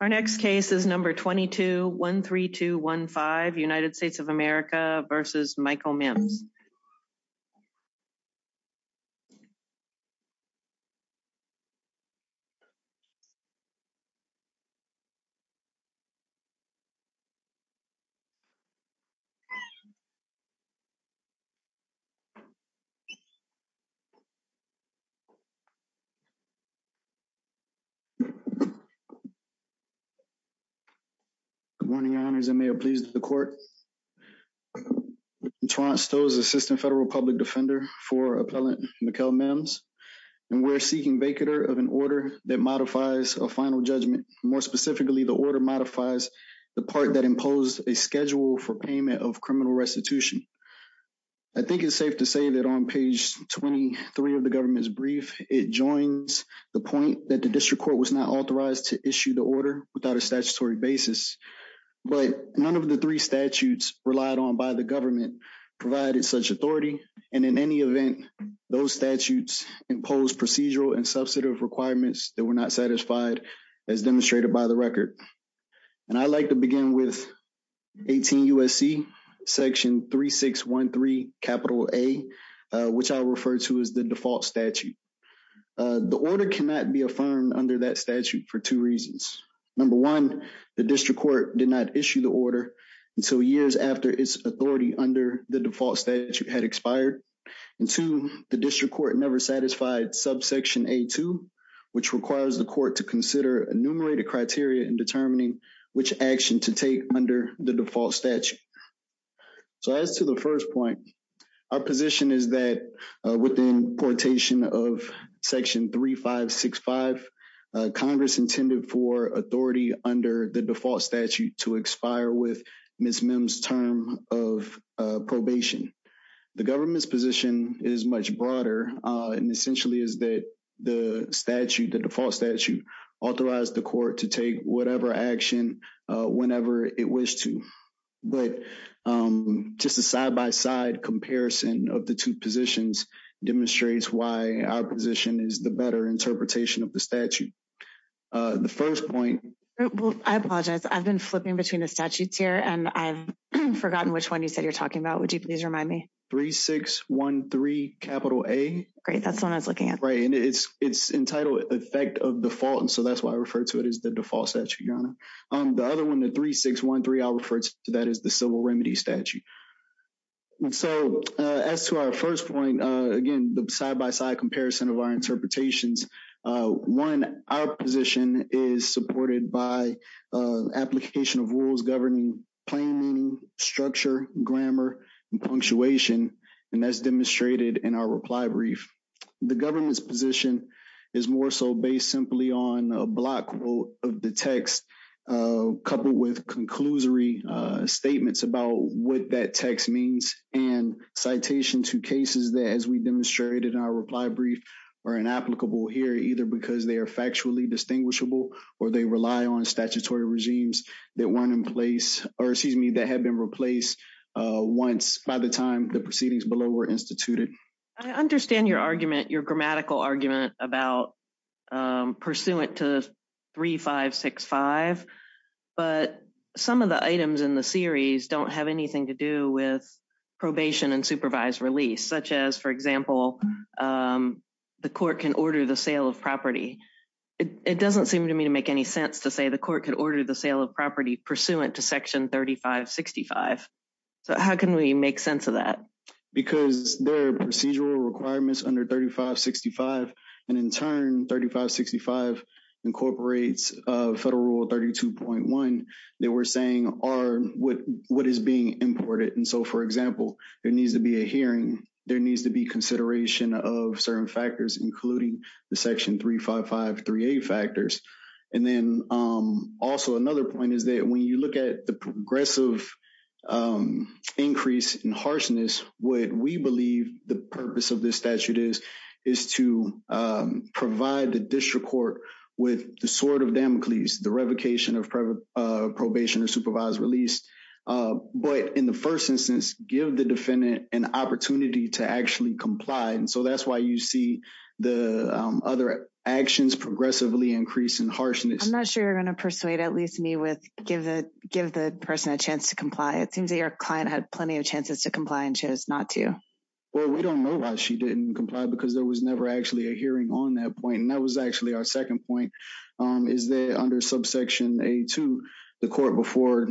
Our next case is number 22-13215, United States of America v. Mikel Mims. Good morning, your honors, and may it please the court. Your honor, I'm Mikel Mims, and I'm an assistant federal public defender for appellant Mikel Mims, and we're seeking vacatur of an order that modifies a final judgment. More specifically, the order modifies the part that imposes a schedule for payment of criminal restitution. I think it's safe to say that on page 23 of the government's brief, it joins the point that the district court was not authorized to issue the order without a statutory basis. But none of the three statutes relied on by the government provided such authority, and in any event, those statutes imposed procedural and substantive requirements that were not satisfied as demonstrated by the record. And I'd like to begin with 18 U.S.C. section 3613 capital A, which I refer to as the default statute. The order cannot be affirmed under that statute for two reasons. Number one, the district court did not issue the order until years after its authority under the default statute had expired. And two, the district court never satisfied subsection A2, which requires the court to consider enumerated criteria in determining which action to take under the default statute. So as to the first point, our position is that within quotation of section 3565, Congress intended for authority under the default statute to expire with Ms. Mims' term of probation. The government's position is much broader and essentially is that the statute, the default statute, authorized the court to take whatever action whenever it wished to. But just a side-by-side comparison of the two positions demonstrates why our position is the better interpretation of the statute. The first point... I apologize. I've been flipping between the statutes here, and I've forgotten which one you said you're talking about. Would you please remind me? 3613 capital A. Great. That's the one I was looking at. Right. And it's entitled effect of default, and so that's why I refer to it as the default statute, Your Honor. The other one, the 3613, I refer to that as the civil remedy statute. So as to our first point, again, the side-by-side comparison of our interpretations, one, our position is supported by application of rules governing planning, structure, grammar, and punctuation, and that's demonstrated in our reply brief. The government's position is more so based simply on a block of the text coupled with conclusory statements about what that text means and citation to cases that, as we demonstrated in our reply brief, are inapplicable here, either because they are factually distinguishable or they rely on statutory regimes that weren't in place or, excuse me, that had been replaced by the time the proceedings below were instituted. I understand your argument, your grammatical argument about pursuant to 3565, but some of the items in the series don't have anything to do with probation and supervised release, such as, for example, the court can order the sale of property. It doesn't seem to me to make any sense to say the court can order the sale of property pursuant to Section 3565. So how can we make sense of that? Because there are procedural requirements under 3565, and in turn, 3565 incorporates Federal Rule 32.1 that we're saying are what is being imported. And so, for example, there needs to be a hearing. There needs to be consideration of certain factors, including the Section 35538 factors. And then also another point is that when you look at the progressive increase in harshness, what we believe the purpose of this statute is is to provide the district court with the sword of Damocles, the revocation of probation and supervised release, but in the first instance, give the defendant an opportunity to actually comply. And so that's why you see the other actions progressively increase in harshness. I'm not sure you're going to persuade at least me with give the person a chance to comply. It seems that your client had plenty of chances to comply and chose not to. Well, we don't know why she didn't comply because there was never actually a hearing on that point. And that was actually our second point, is that under subsection A2, the court before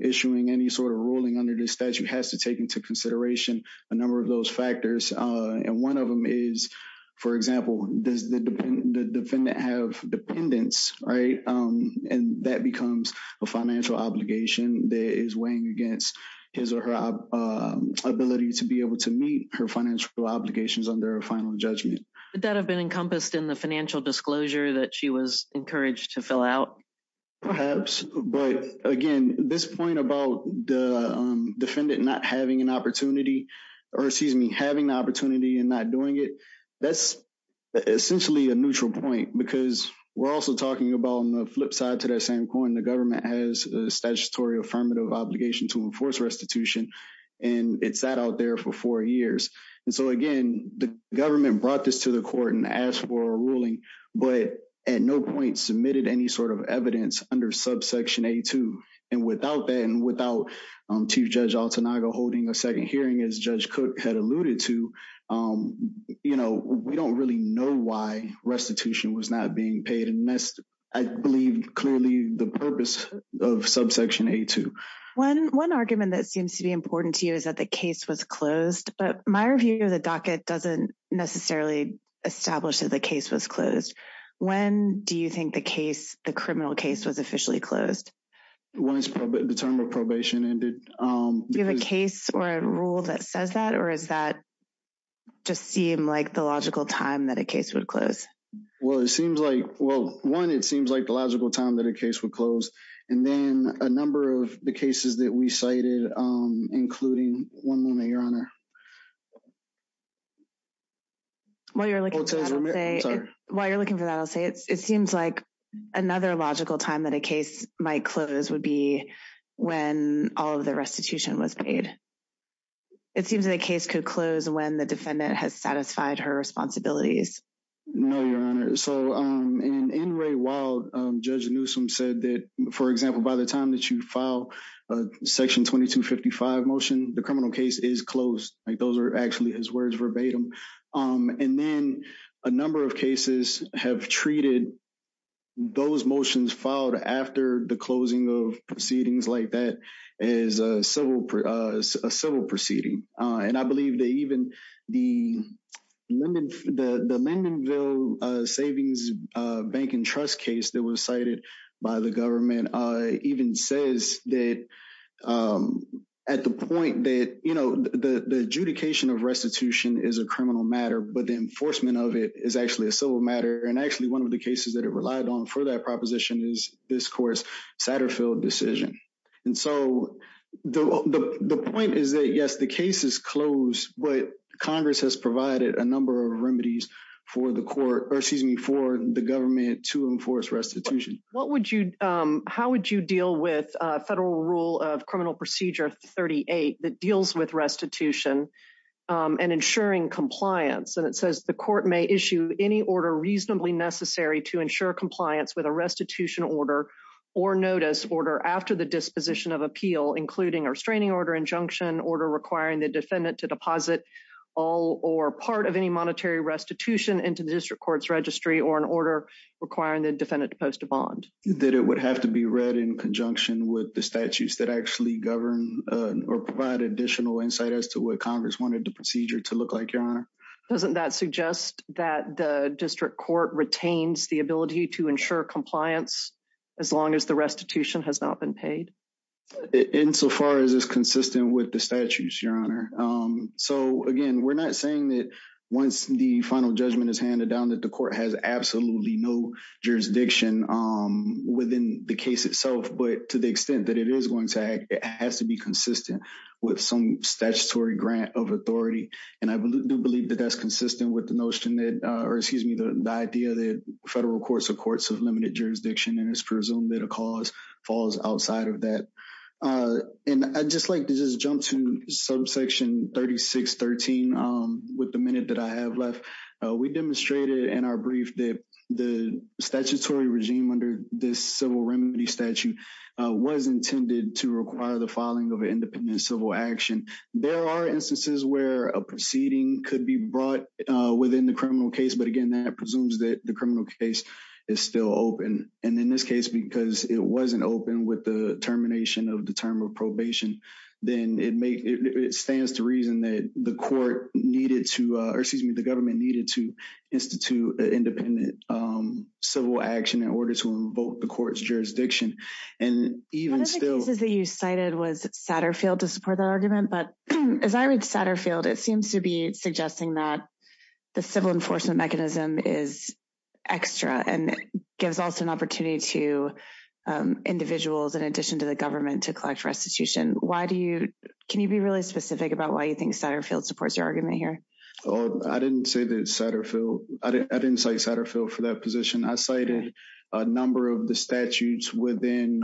issuing any sort of ruling under this statute has to take into consideration a number of those factors. And one of them is, for example, does the defendant have dependents, right? And that becomes a financial obligation that is weighing against his or her ability to be able to meet her financial obligations under a final judgment. Would that have been encompassed in the financial disclosure that she was encouraged to fill out? Perhaps, but again, this point about the defendant not having an opportunity or excuse me, having the opportunity and not doing it, that's essentially a neutral point because we're also talking about on the flip side to that same coin. The government has a statutory affirmative obligation to enforce restitution, and it sat out there for four years. And so, again, the government brought this to the court and asked for a ruling, but at no point submitted any sort of evidence under subsection A2. And without that and without Chief Judge Altanaga holding a second hearing, as Judge Cook had alluded to, we don't really know why restitution was not being paid. And that's, I believe, clearly the purpose of subsection A2. One argument that seems to be important to you is that the case was closed, but my review of the docket doesn't necessarily establish that the case was closed. When do you think the case, the criminal case, was officially closed? Once the term of probation ended. Do you have a case or a rule that says that, or does that just seem like the logical time that a case would close? Well, it seems like, well, one, it seems like the logical time that a case would close. And then a number of the cases that we cited, including one moment, Your Honor. While you're looking for that, I'll say it seems like another logical time that a case might close would be when all of the restitution was paid. It seems that a case could close when the defendant has satisfied her responsibilities. No, Your Honor. So in Ray Wild, Judge Newsom said that, for example, by the time that you file a Section 2255 motion, the criminal case is closed. Those are actually his words verbatim. And then a number of cases have treated those motions filed after the closing of proceedings like that as a civil proceeding. And I believe that even the Lindenville Savings Bank and Trust case that was cited by the government even says that at the point that, you know, the adjudication of restitution is a criminal matter, but the enforcement of it is actually a civil matter. And actually one of the cases that it relied on for that proposition is this court's Satterfield decision. And so the point is that, yes, the case is closed, but Congress has provided a number of remedies for the court or, excuse me, for the government to enforce restitution. How would you deal with federal rule of criminal procedure 38 that deals with restitution and ensuring compliance? And it says the court may issue any order reasonably necessary to ensure compliance with a restitution order or notice order after the disposition of appeal, including a restraining order, injunction, order requiring the defendant to deposit all or part of any monetary restitution into the district court's registry or an order requiring the defendant to post a bond. That it would have to be read in conjunction with the statutes that actually govern or provide additional insight as to what Congress wanted the procedure to look like, Your Honor. Doesn't that suggest that the district court retains the ability to ensure compliance as long as the restitution has not been paid? Insofar as it's consistent with the statutes, Your Honor. So, again, we're not saying that once the final judgment is handed down that the court has absolutely no jurisdiction within the case itself, but to the extent that it is going to have to be consistent with some statutory grant of authority. And I do believe that that's consistent with the notion that, or excuse me, the idea that federal courts are courts of limited jurisdiction and it's presumed that a cause falls outside of that. And I'd just like to just jump to subsection 3613 with the minute that I have left. We demonstrated in our brief that the statutory regime under this civil remedy statute was intended to require the filing of an independent civil action. There are instances where a proceeding could be brought within the criminal case, but again, that presumes that the criminal case is still open. And in this case, because it wasn't open with the termination of the term of probation, then it stands to reason that the court needed to, or excuse me, the government needed to institute independent civil action in order to revoke the court's jurisdiction. One of the cases that you cited was Satterfield to support that argument, but as I read Satterfield, it seems to be suggesting that the civil enforcement mechanism is extra and gives also an opportunity to individuals in addition to the government to collect restitution. Can you be really specific about why you think Satterfield supports your argument here? I didn't cite Satterfield for that position. I cited a number of the statutes within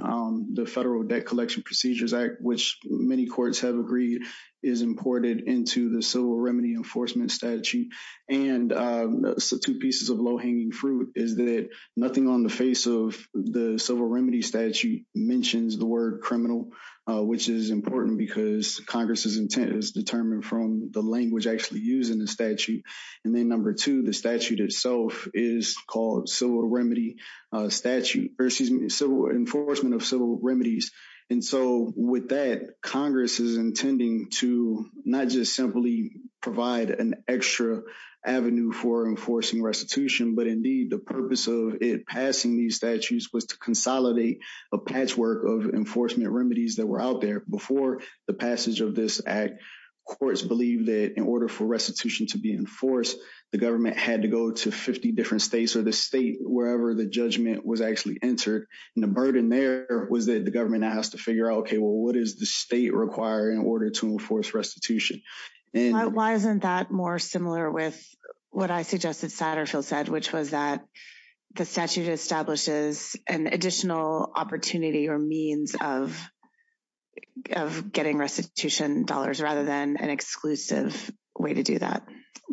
the Federal Debt Collection Procedures Act, which many courts have agreed is imported into the civil remedy enforcement statute. And two pieces of low-hanging fruit is that nothing on the face of the civil remedy statute mentions the word criminal, which is important because Congress's intent is determined from the language actually used in the statute. And then number two, the statute itself is called civil remedy statute, or excuse me, civil enforcement of civil remedies. And so with that, Congress is intending to not just simply provide an extra avenue for enforcing restitution, but indeed the purpose of it passing these statutes was to consolidate a patchwork of enforcement remedies that were out there. Before the passage of this act, courts believed that in order for restitution to be enforced, the government had to go to 50 different states or the state wherever the judgment was actually entered. And the burden there was that the government has to figure out, okay, well, what does the state require in order to enforce restitution? Why isn't that more similar with what I suggested Satterfield said, which was that the statute establishes an additional opportunity or means of getting restitution dollars rather than an exclusive way to do that?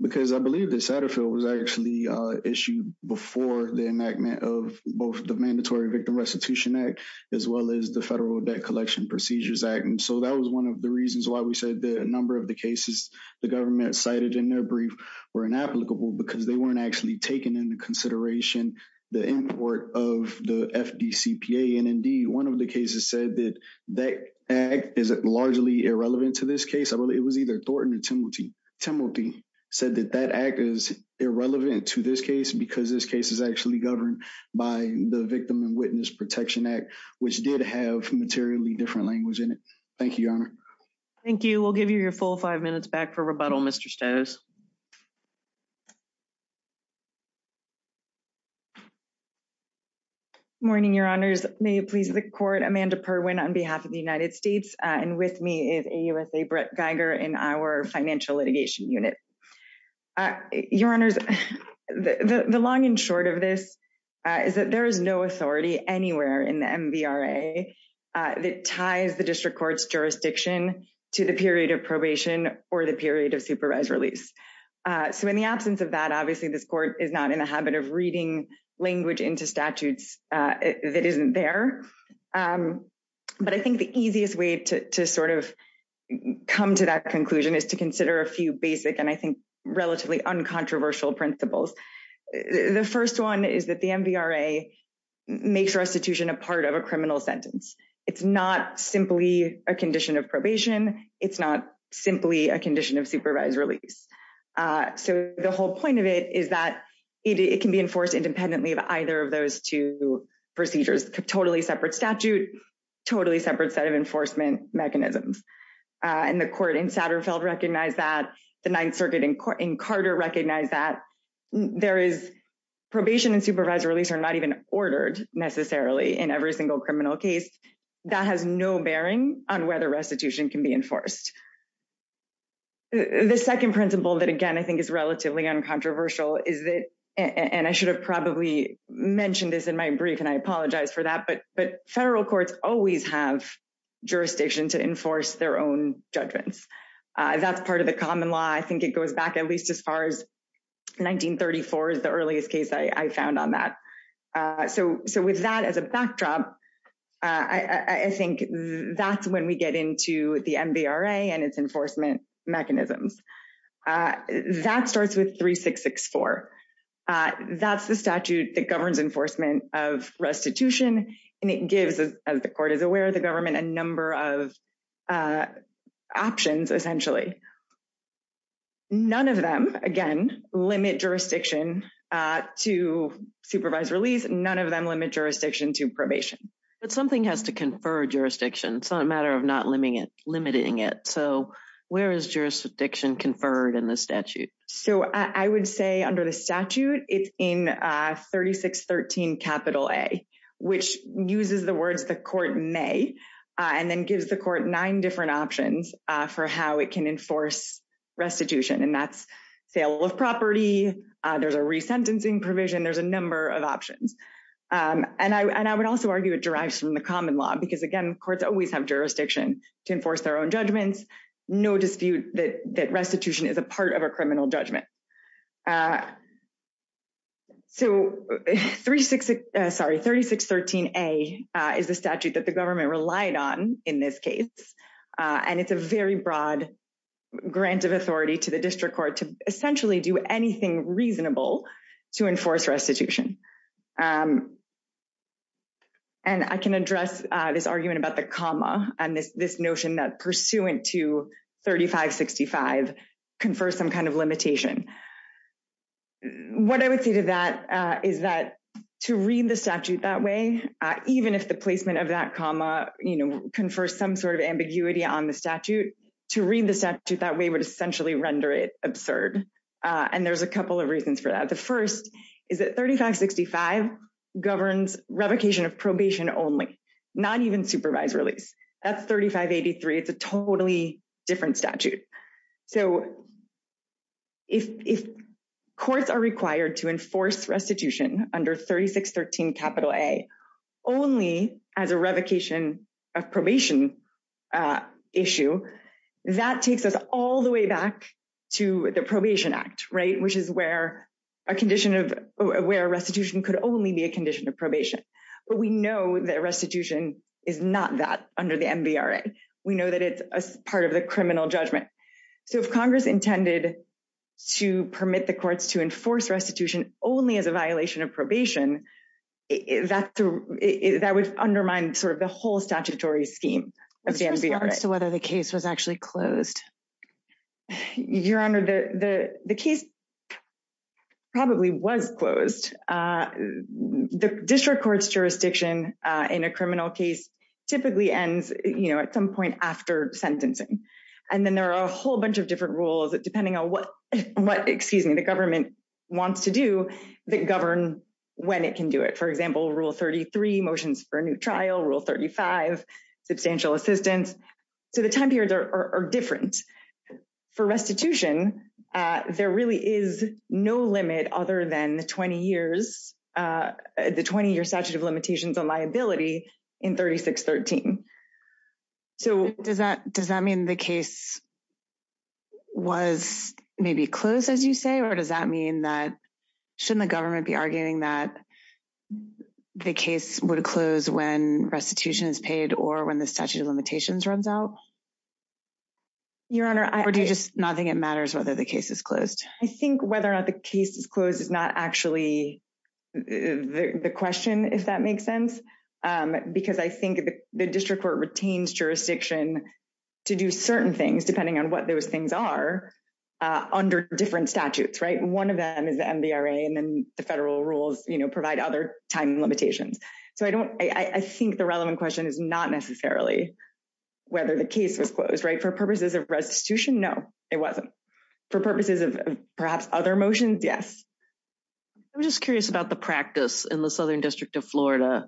Because I believe that Satterfield was actually issued before the enactment of both the Mandatory Victim Restitution Act, as well as the Federal Debt Collection Procedures Act. And so that was one of the reasons why we said that a number of the cases the government cited in their brief were inapplicable because they weren't actually taking into consideration the import of the FDCPA. And indeed, one of the cases said that that act is largely irrelevant to this case. It was either Thornton or Timothy. Timothy said that that act is irrelevant to this case because this case is actually governed by the Victim and Witness Protection Act, which did have materially different language in it. Thank you, Your Honor. Thank you. We'll give you your full five minutes back for rebuttal, Mr. Stez. Morning, Your Honors. May it please the Court. Amanda Perwin on behalf of the United States and with me is AUSA Brett Geiger in our Financial Litigation Unit. Your Honors, the long and short of this is that there is no authority anywhere in the MVRA that ties the district court's jurisdiction to the period of probation or the period of supervised release. So in the absence of that, obviously, this court is not in a habit of reading language into statutes that isn't there. But I think the easiest way to sort of come to that conclusion is to consider a few basic and I think relatively uncontroversial principles. The first one is that the MVRA makes restitution a part of a criminal sentence. It's not simply a condition of probation. It's not simply a condition of supervised release. So the whole point of it is that it can be enforced independently of either of those two procedures. It's a totally separate statute, totally separate set of enforcement mechanisms. And the court in Satterfield recognized that. The Ninth Circuit in Carter recognized that. There is probation and supervised release are not even ordered necessarily in every single criminal case. That has no bearing on whether restitution can be enforced. The second principle that, again, I think is relatively uncontroversial is that, and I should have probably mentioned this in my brief, and I apologize for that, but federal courts always have jurisdiction to enforce their own judgments. That's part of the common law. I think it goes back at least as far as 1934 is the earliest case I found on that. So with that as a backdrop, I think that's when we get into the MVRA and its enforcement mechanisms. That starts with 3664. That's the statute that governs enforcement of restitution, and it gives, as the court is aware, the government a number of options, essentially. None of them, again, limit jurisdiction to supervised release. None of them limit jurisdiction to probation. But something has to confer jurisdiction. It's not a matter of not limiting it. So where is jurisdiction conferred in the statute? So I would say under the statute it's in 3613 capital A, which uses the words the court may, and then gives the court nine different options for how it can enforce restitution. And that's sale of property. There's a resentencing provision. There's a number of options. And I would also argue it derives from the common law, because, again, courts always have jurisdiction to enforce their own judgments. No dispute that restitution is a part of a criminal judgment. So 3613A is a statute that the government relied on in this case, and it's a very broad grant of authority to the district court to essentially do anything reasonable to enforce restitution. And I can address this argument about the comma and this notion that pursuant to 3565 confers some kind of limitation. What I would say to that is that to read the statute that way, even if the placement of that comma, you know, confers some sort of ambiguity on the statute, to read the statute that way would essentially render it absurd. And there's a couple of reasons for that. The first is that 3565 governs revocation of probation only, not even supervised release. That's 3583. It's a totally different statute. So if courts are required to enforce restitution under 3613A only as a revocation of probation issue, that takes us all the way back to the Probation Act, right, which is where a restitution could only be a condition of probation. But we know that restitution is not that under the MVRA. We know that it's part of the criminal judgment. So if Congress intended to permit the courts to enforce restitution only as a violation of probation, that would undermine sort of the whole statutory scheme of the MVRA. So what if the case was actually closed? Your Honor, the case probably was closed. The district court's jurisdiction in a criminal case typically ends, you know, at some point after sentencing. And then there are a whole bunch of different rules, depending on what, excuse me, the government wants to do that govern when it can do it. For example, Rule 33, motions for a new trial, Rule 35, substantial assistance. So the time periods are different. For restitution, there really is no limit other than 20 years, the 20-year statute of limitations on liability in 3613. So does that mean the case was maybe closed, as you say? Or does that mean that shouldn't the government be arguing that the case would close when restitution is paid or when the statute of limitations runs out? Your Honor, I would just not think it matters whether the case is closed. I think whether or not the case is closed is not actually the question, if that makes sense. Because I think the district court retains jurisdiction to do certain things, depending on what those things are, under different statutes, right? One of them is MVRA, and then the federal rules, you know, provide other time limitations. So I think the relevant question is not necessarily whether the case was closed, right? For purposes of restitution, no, it wasn't. For purposes of perhaps other motions, yes. I'm just curious about the practice in the Southern District of Florida.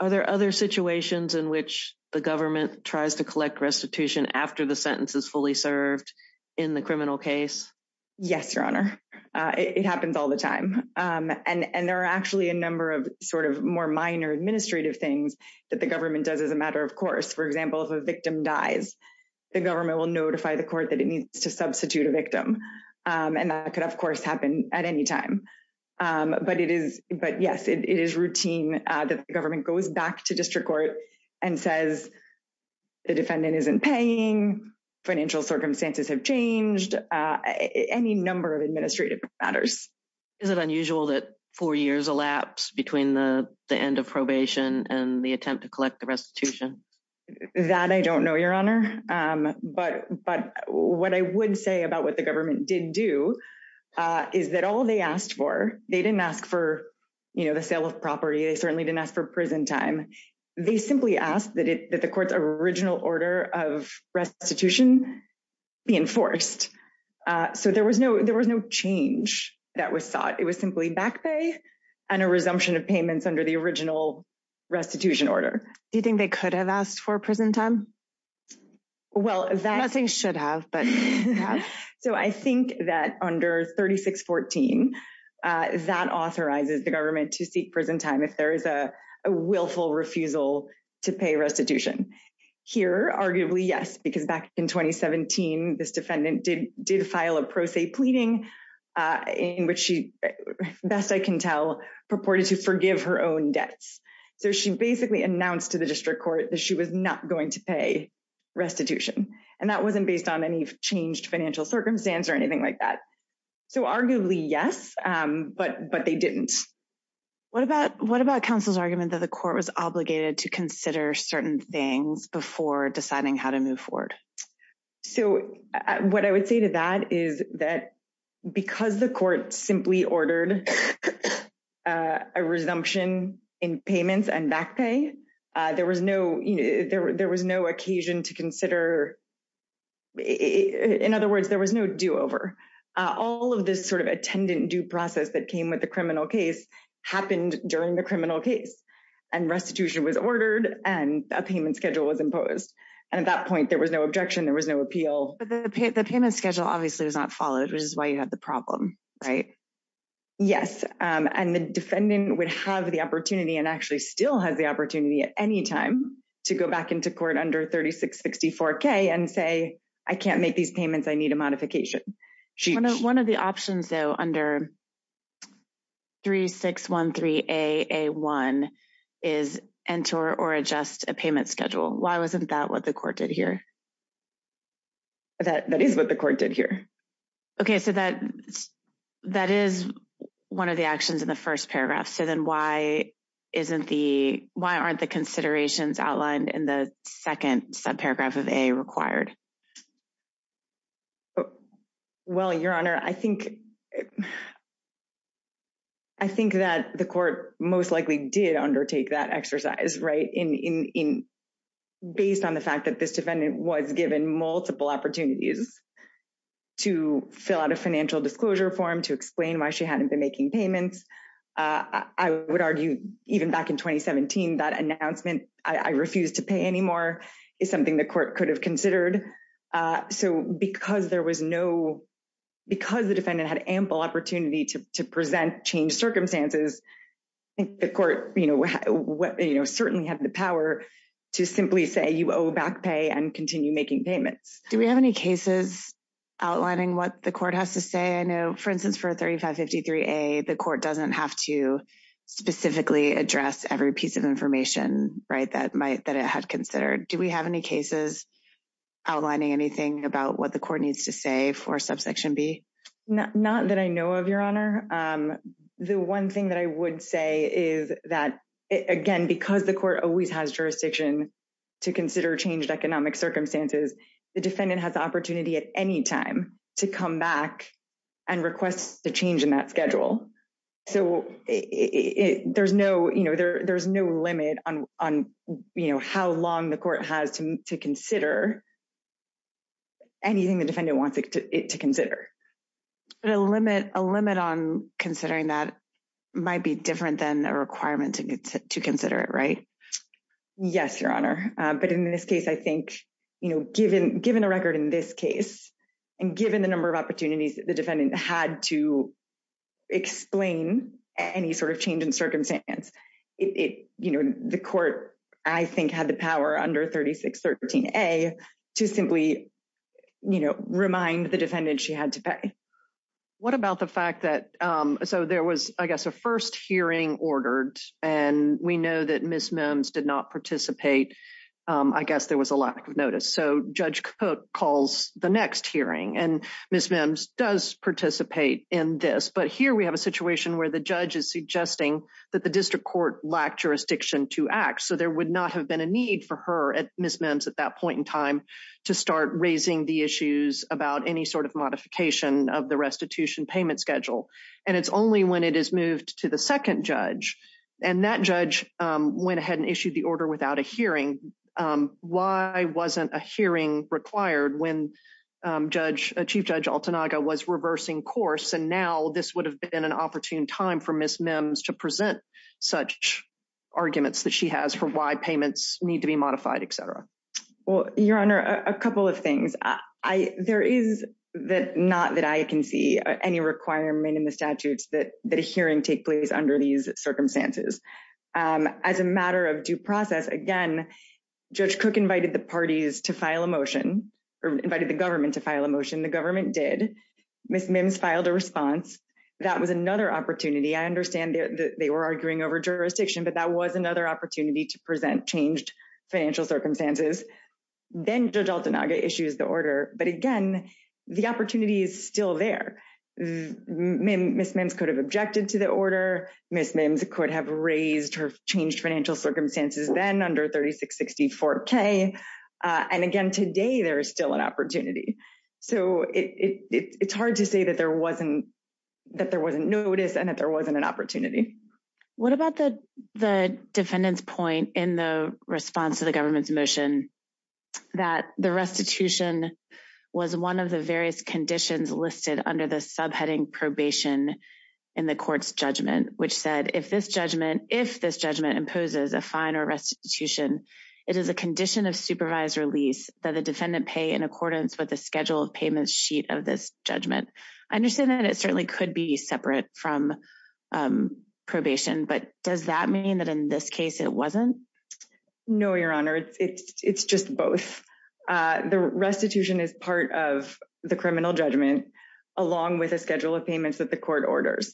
Are there other situations in which the government tries to collect restitution after the sentence is fully served in the criminal case? Yes, Your Honor. It happens all the time. And there are actually a number of sort of more minor administrative things that the government does as a matter of course. For example, if a victim dies, the government will notify the court that it needs to substitute a victim. And that could, of course, happen at any time. But yes, it is routine that the government goes back to district court and says the defendant isn't paying, financial circumstances have changed, any number of administrative matters. Isn't it unusual that four years elapse between the end of probation and the attempt to collect the restitution? That I don't know, Your Honor. But what I would say about what the government did do is that all they asked for, they didn't ask for, you know, the sale of property. They certainly didn't ask for prison time. They simply asked that the court's original order of restitution be enforced. So there was no change that was sought. It was simply back pay and a resumption of payments under the original restitution order. Do you think they could have asked for prison time? Well, that… Nothing should have, but… So I think that under 3614, that authorizes the government to seek prison time if there is a willful refusal to pay restitution. Here, arguably, yes, because back in 2017, this defendant did file a pro se pleading in which she, best I can tell, purported to forgive her own debts. So she basically announced to the district court that she was not going to pay restitution. And that wasn't based on any changed financial circumstances or anything like that. So arguably, yes, but they didn't. What about counsel's argument that the court was obligated to consider certain things before deciding how to move forward? So what I would say to that is that because the court simply ordered a resumption in payments and back pay, there was no occasion to consider… In other words, there was no do-over. All of this sort of attendant due process that came with the criminal case happened during the criminal case. And restitution was ordered, and a payment schedule was imposed. And at that point, there was no objection. There was no appeal. But the payment schedule obviously was not followed, which is why you have the problem, right? Yes. And the defendant would have the opportunity and actually still has the opportunity at any time to go back into court under 3664K and say, I can't make these payments. I need a modification. One of the options, though, under 3613AA1 is enter or adjust a payment schedule. Why wasn't that what the court did here? That is what the court did here. Okay. So that is one of the actions in the first paragraph. So then why aren't the considerations outlined in the second subparagraph of A required? Well, Your Honor, I think that the court most likely did undertake that exercise, right, based on the fact that this defendant was given multiple opportunities to fill out a financial disclosure form, to explain why she hadn't been making payments. I would argue even back in 2017, that announcement, I refuse to pay anymore, is something the court could have considered. So because there was no – because the defendant had ample opportunity to present changed circumstances, I think the court certainly had the power to simply say, you owe back pay and continue making payments. Do we have any cases outlining what the court has to say? I know, for instance, for 3553A, the court doesn't have to specifically address every piece of information, right, that it has considered. Do we have any cases outlining anything about what the court needs to say for subsection B? Not that I know of, Your Honor. The one thing that I would say is that, again, because the court always has jurisdiction to consider changed economic circumstances, the defendant has the opportunity at any time to come back and request a change in that schedule. So there's no limit on how long the court has to consider anything the defendant wants it to consider. But a limit on considering that might be different than a requirement to consider it, right? Yes, Your Honor. But in this case, I think, you know, given the record in this case and given the number of opportunities the defendant had to explain any sort of change in circumstance, you know, the court, I think, had the power under 3613A to simply, you know, remind the defendant she had to pay. What about the fact that, so there was, I guess, a first hearing ordered, and we know that Ms. Mims did not participate. I guess there was a lack of notice. So Judge Cook calls the next hearing, and Ms. Mims does participate in this. But here we have a situation where the judge is suggesting that the district court lacked jurisdiction to act. So there would not have been a need for her at Ms. Mims at that point in time to start raising the issues about any sort of modification of the restitution payment schedule. And it's only when it is moved to the second judge. And that judge went ahead and issued the order without a hearing. Why wasn't a hearing required when Chief Judge Altanaga was reversing course? And now this would have been an opportune time for Ms. Mims to present such arguments that she has for why payments need to be modified, et cetera. Well, Your Honor, a couple of things. There is not that I can see any requirement in the statutes that a hearing take place under these circumstances. As a matter of due process, again, Judge Cook invited the parties to file a motion, or invited the government to file a motion. The government did. Ms. Mims filed a response. That was another opportunity. I understand they were arguing over jurisdiction, but that was another opportunity to present changed financial circumstances. Then Judge Altanaga issues the order. But, again, the opportunity is still there. Ms. Mims could have objected to the order. Ms. Mims could have raised her changed financial circumstances then under 3664K. And, again, today there is still an opportunity. So it's hard to say that there wasn't notice and that there wasn't an opportunity. What about the defendant's point in the response to the government's motion that the restitution was one of the various conditions listed under the subheading probation in the court's judgment, which said, if this judgment imposes a fine or restitution, it is a condition of supervised release that the defendant pay in accordance with the scheduled payment sheet of this judgment. I understand that it certainly could be separate from probation, but does that mean that in this case it wasn't? No, Your Honor. It's just both. The restitution is part of the criminal judgment, along with a schedule of payments that the court orders.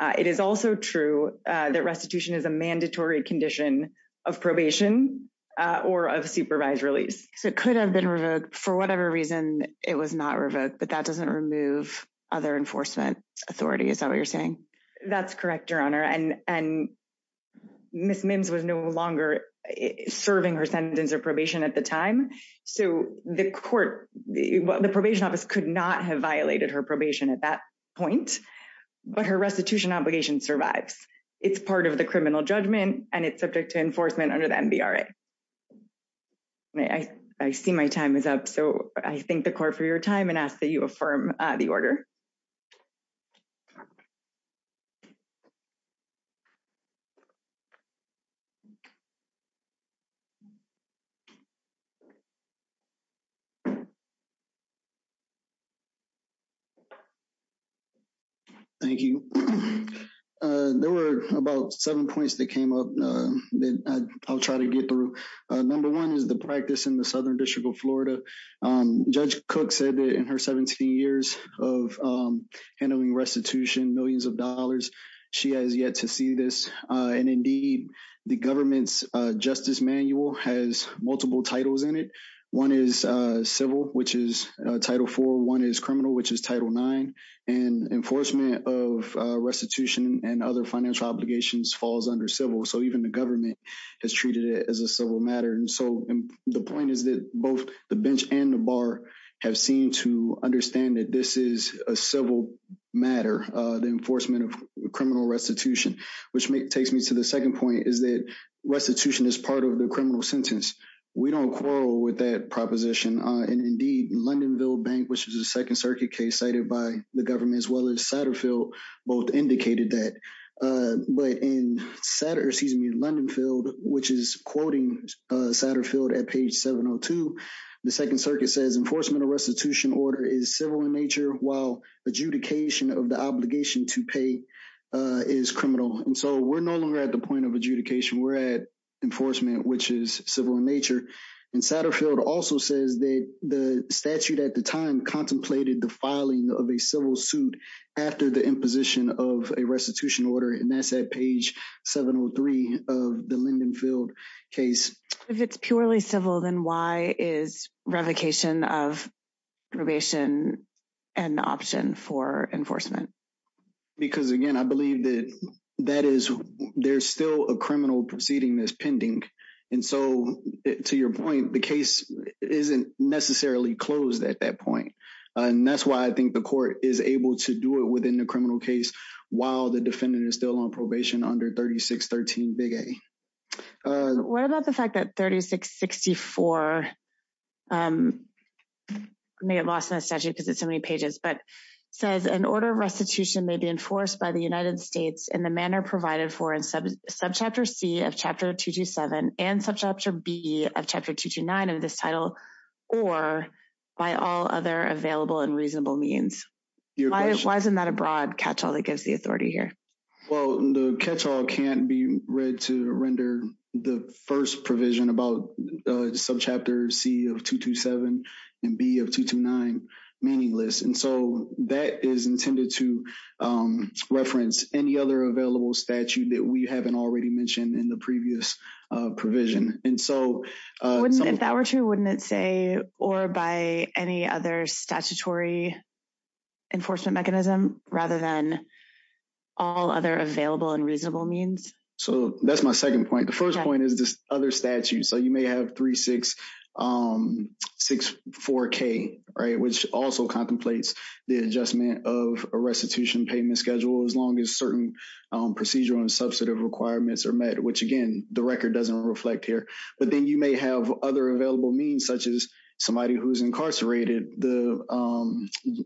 It is also true that restitution is a mandatory condition of probation or of supervised release. It could have been revoked for whatever reason it was not revoked, but that doesn't remove other enforcement authority. Is that what you're saying? That's correct, Your Honor. And Ms. Mims was no longer serving her sentence of probation at the time. So the probation office could not have violated her probation at that point. But her restitution obligation survives. It's part of the criminal judgment, and it's subject to enforcement under the NBRA. I see my time is up, so I thank the court for your time and ask that you affirm the order. Thank you. There were about seven points that came up that I'll try to get through. Number one is the practice in the Southern District of Florida. Judge Cook said that in her 17 years of handling restitution, millions of dollars, she has yet to see this. And, indeed, the government's justice manual has multiple titles in it. One is civil, which is Title IV. One is criminal, which is Title IX. And enforcement of restitution and other financial obligations falls under civil. So even the government has treated it as a civil matter. And so the point is that both the bench and the bar have seemed to understand that this is a civil matter, the enforcement of criminal restitution. Which takes me to the second point, is that restitution is part of the criminal sentence. We don't quarrel with that proposition. And, indeed, Lindenville Bank, which is a Second Circuit case cited by the government, as well as Satterfield, both indicated that. But in Satterfield, which is quoting Satterfield at page 702, the Second Circuit says, Enforcement of restitution order is civil in nature, while adjudication of the obligation to pay is criminal. And so we're no longer at the point of adjudication. We're at enforcement, which is civil in nature. And Satterfield also says that the statute at the time contemplated the filing of a civil suit after the imposition of a restitution order. And that's at page 703 of the Lindenville case. If it's purely civil, then why is revocation of probation an option for enforcement? Because, again, I believe that there's still a criminal proceeding that's pending. And so, to your point, the case isn't necessarily closed at that point. And that's why I think the court is able to do it within the criminal case while the defendant is still on probation under 3613 Big A. What about the fact that 3664 may have lost the statute because it's so many pages, but says an order of restitution may be enforced by the United States in the manner provided for in Subchapter C of Chapter 227 and Subchapter B of Chapter 229 of this title or by all other available and reasonable means? Why isn't that a broad catch-all that gives the authority here? Well, the catch-all can't be read to render the first provision about Subchapter C of 227 and B of 229 meaningless. And so that is intended to reference any other available statute that we haven't already mentioned in the previous provision. If that were true, wouldn't it say or by any other statutory enforcement mechanism rather than all other available and reasonable means? So that's my second point. The first point is other statutes. So you may have 3664K, which also contemplates the adjustment of a restitution payment schedule as long as certain procedural and substantive requirements are met, which, again, the record doesn't reflect here. But then you may have other available means, such as somebody who's incarcerated. The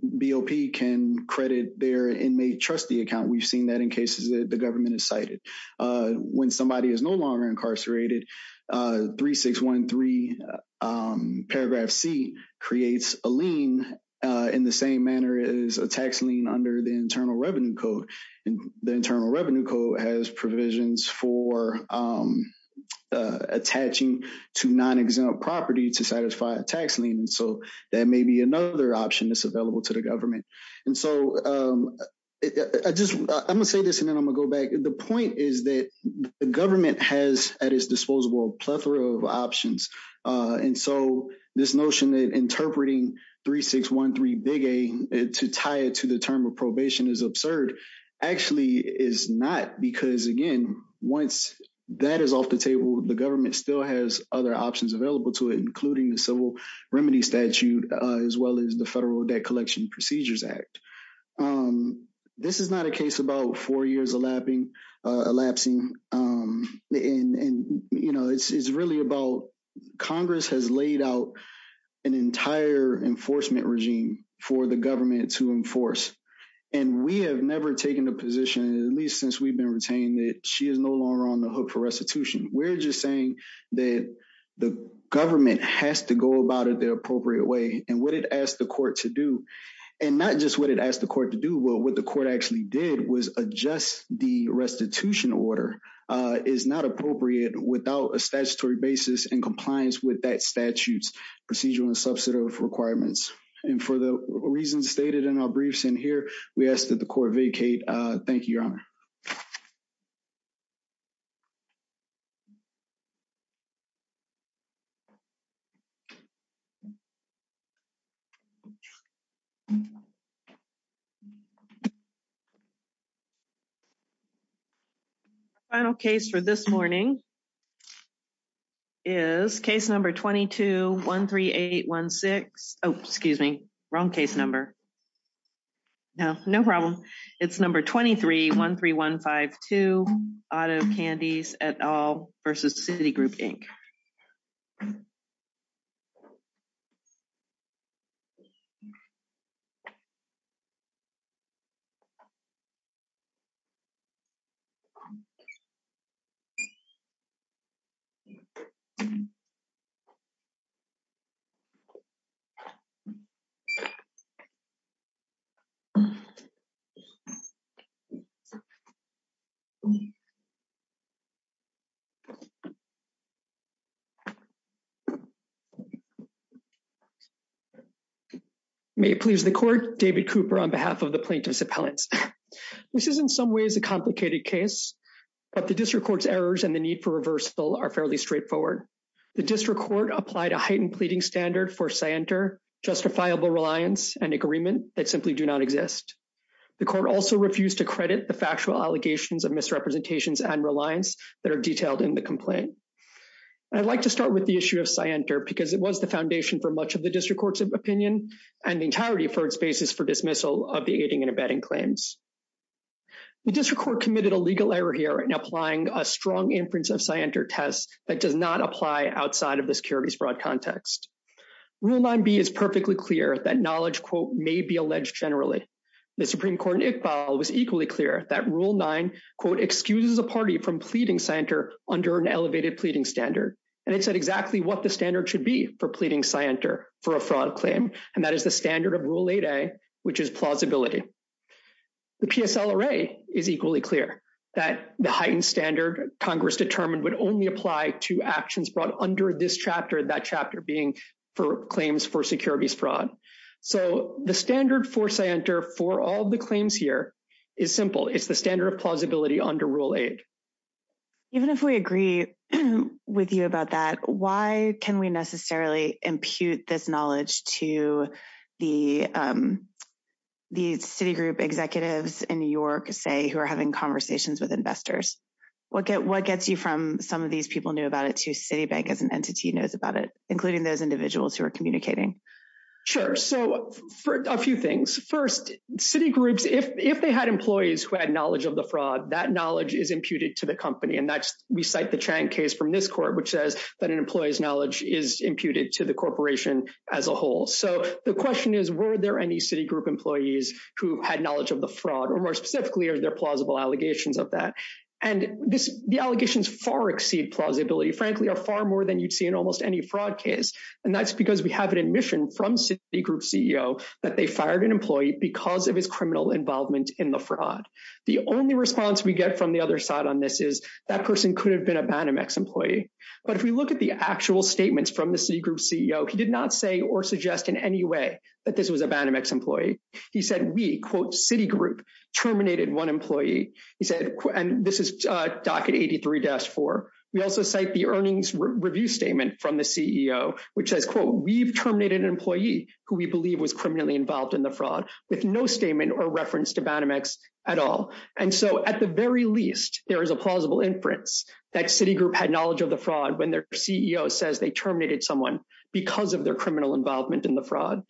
BOP can credit their inmate trustee account. We've seen that in cases that the government has cited. When somebody is no longer incarcerated, 3613 paragraph C creates a lien in the same manner as a tax lien under the Internal Revenue Code. The Internal Revenue Code has provisions for attaching to non-exempt property to satisfy a tax lien. So that may be another option that's available to the government. And so I'm going to say this, and then I'm going to go back. The point is that the government has at its disposal a plethora of options. And so this notion that interpreting 3613A to tie it to the term of probation is absurd actually is not, because, again, once that is off the table, the government still has other options available to it, including the Civil Remedies Statute as well as the Federal Debt Collection Procedures Act. This is not a case about four years elapsing. And, you know, it's really about Congress has laid out an entire enforcement regime for the government to enforce. And we have never taken a position, at least since we've been retained, that she is no longer on the hook for restitution. We're just saying that the government has to go about it the appropriate way. And what it asked the court to do, and not just what it asked the court to do, but what the court actually did was adjust the restitution order, is not appropriate without a statutory basis in compliance with that statute's procedural and substantive requirements. And for the reasons stated in our briefs in here, we ask that the court vacate. Thank you, Your Honor. Final case for this morning is case number 22-13816. Oh, excuse me, wrong case number. No, no problem. It's number 23-13152, Otto Candies et al. versus Citigroup, Inc. May it please the court. David Cooper on behalf of the plaintiffs' appellants. This is in some ways a complicated case, but the district court's errors and the need for reversal are fairly straightforward. The district court applied a heightened pleading standard for scienter, justifiable reliance, and agreement that simply do not exist. The court also refused to credit the factual allegations of misrepresentations and reliance that are detailed in the complaint. I'd like to start with the issue of scienter, because it was the foundation for much of the district court's opinion, and the entirety for its basis for dismissal of the aiding and abetting claims. The district court committed a legal error here in applying a strong inference of scienter test that does not apply outside of the securities broad context. Rule 9B is perfectly clear that knowledge, quote, may be alleged generally. The Supreme Court in Iqbal was equally clear that Rule 9, quote, excuses a party from pleading scienter under an elevated pleading standard. And it said exactly what the standard should be for pleading scienter for a fraud claim, and that is the standard of Rule 8A, which is plausibility. The PSLRA is equally clear that the heightened standard Congress determined would only apply to actions brought under this chapter, that chapter being for claims for securities fraud. So the standard for scienter for all the claims here is simple. It's the standard of plausibility under Rule 8. Even if we agree with you about that, why can we necessarily impute this knowledge to the city group executives in New York, say, who are having conversations with investors? What gets you from some of these people knew about it to Citibank as an entity knows about it, including those individuals who are communicating? Sure. So a few things. First, city groups, if they had employees who had knowledge of the fraud, that knowledge is imputed to the company. And that's we cite the Chang case from this court, which says that an employee's knowledge is imputed to the corporation as a whole. So the question is, were there any city group employees who had knowledge of the fraud or more specifically, are there plausible allegations of that? And the allegations far exceed plausibility, frankly, are far more than you'd see in almost any fraud case. And that's because we have an admission from Citigroup CEO that they fired an employee because of his criminal involvement in the fraud. The only response we get from the other side on this is that person could have been a Banamex employee. But if we look at the actual statements from the Citigroup CEO, he did not say or suggest in any way that this was a Banamex employee. He said we quote Citigroup terminated one employee. And this is Docket 83-4. We also cite the earnings review statement from the CEO, which says, quote, we've terminated an employee who we believe was criminally involved in the fraud with no statement or reference to Banamex at all. And so at the very least, there is a plausible inference that Citigroup had knowledge of the fraud when their CEO says they terminated someone because of their criminal involvement in the fraud.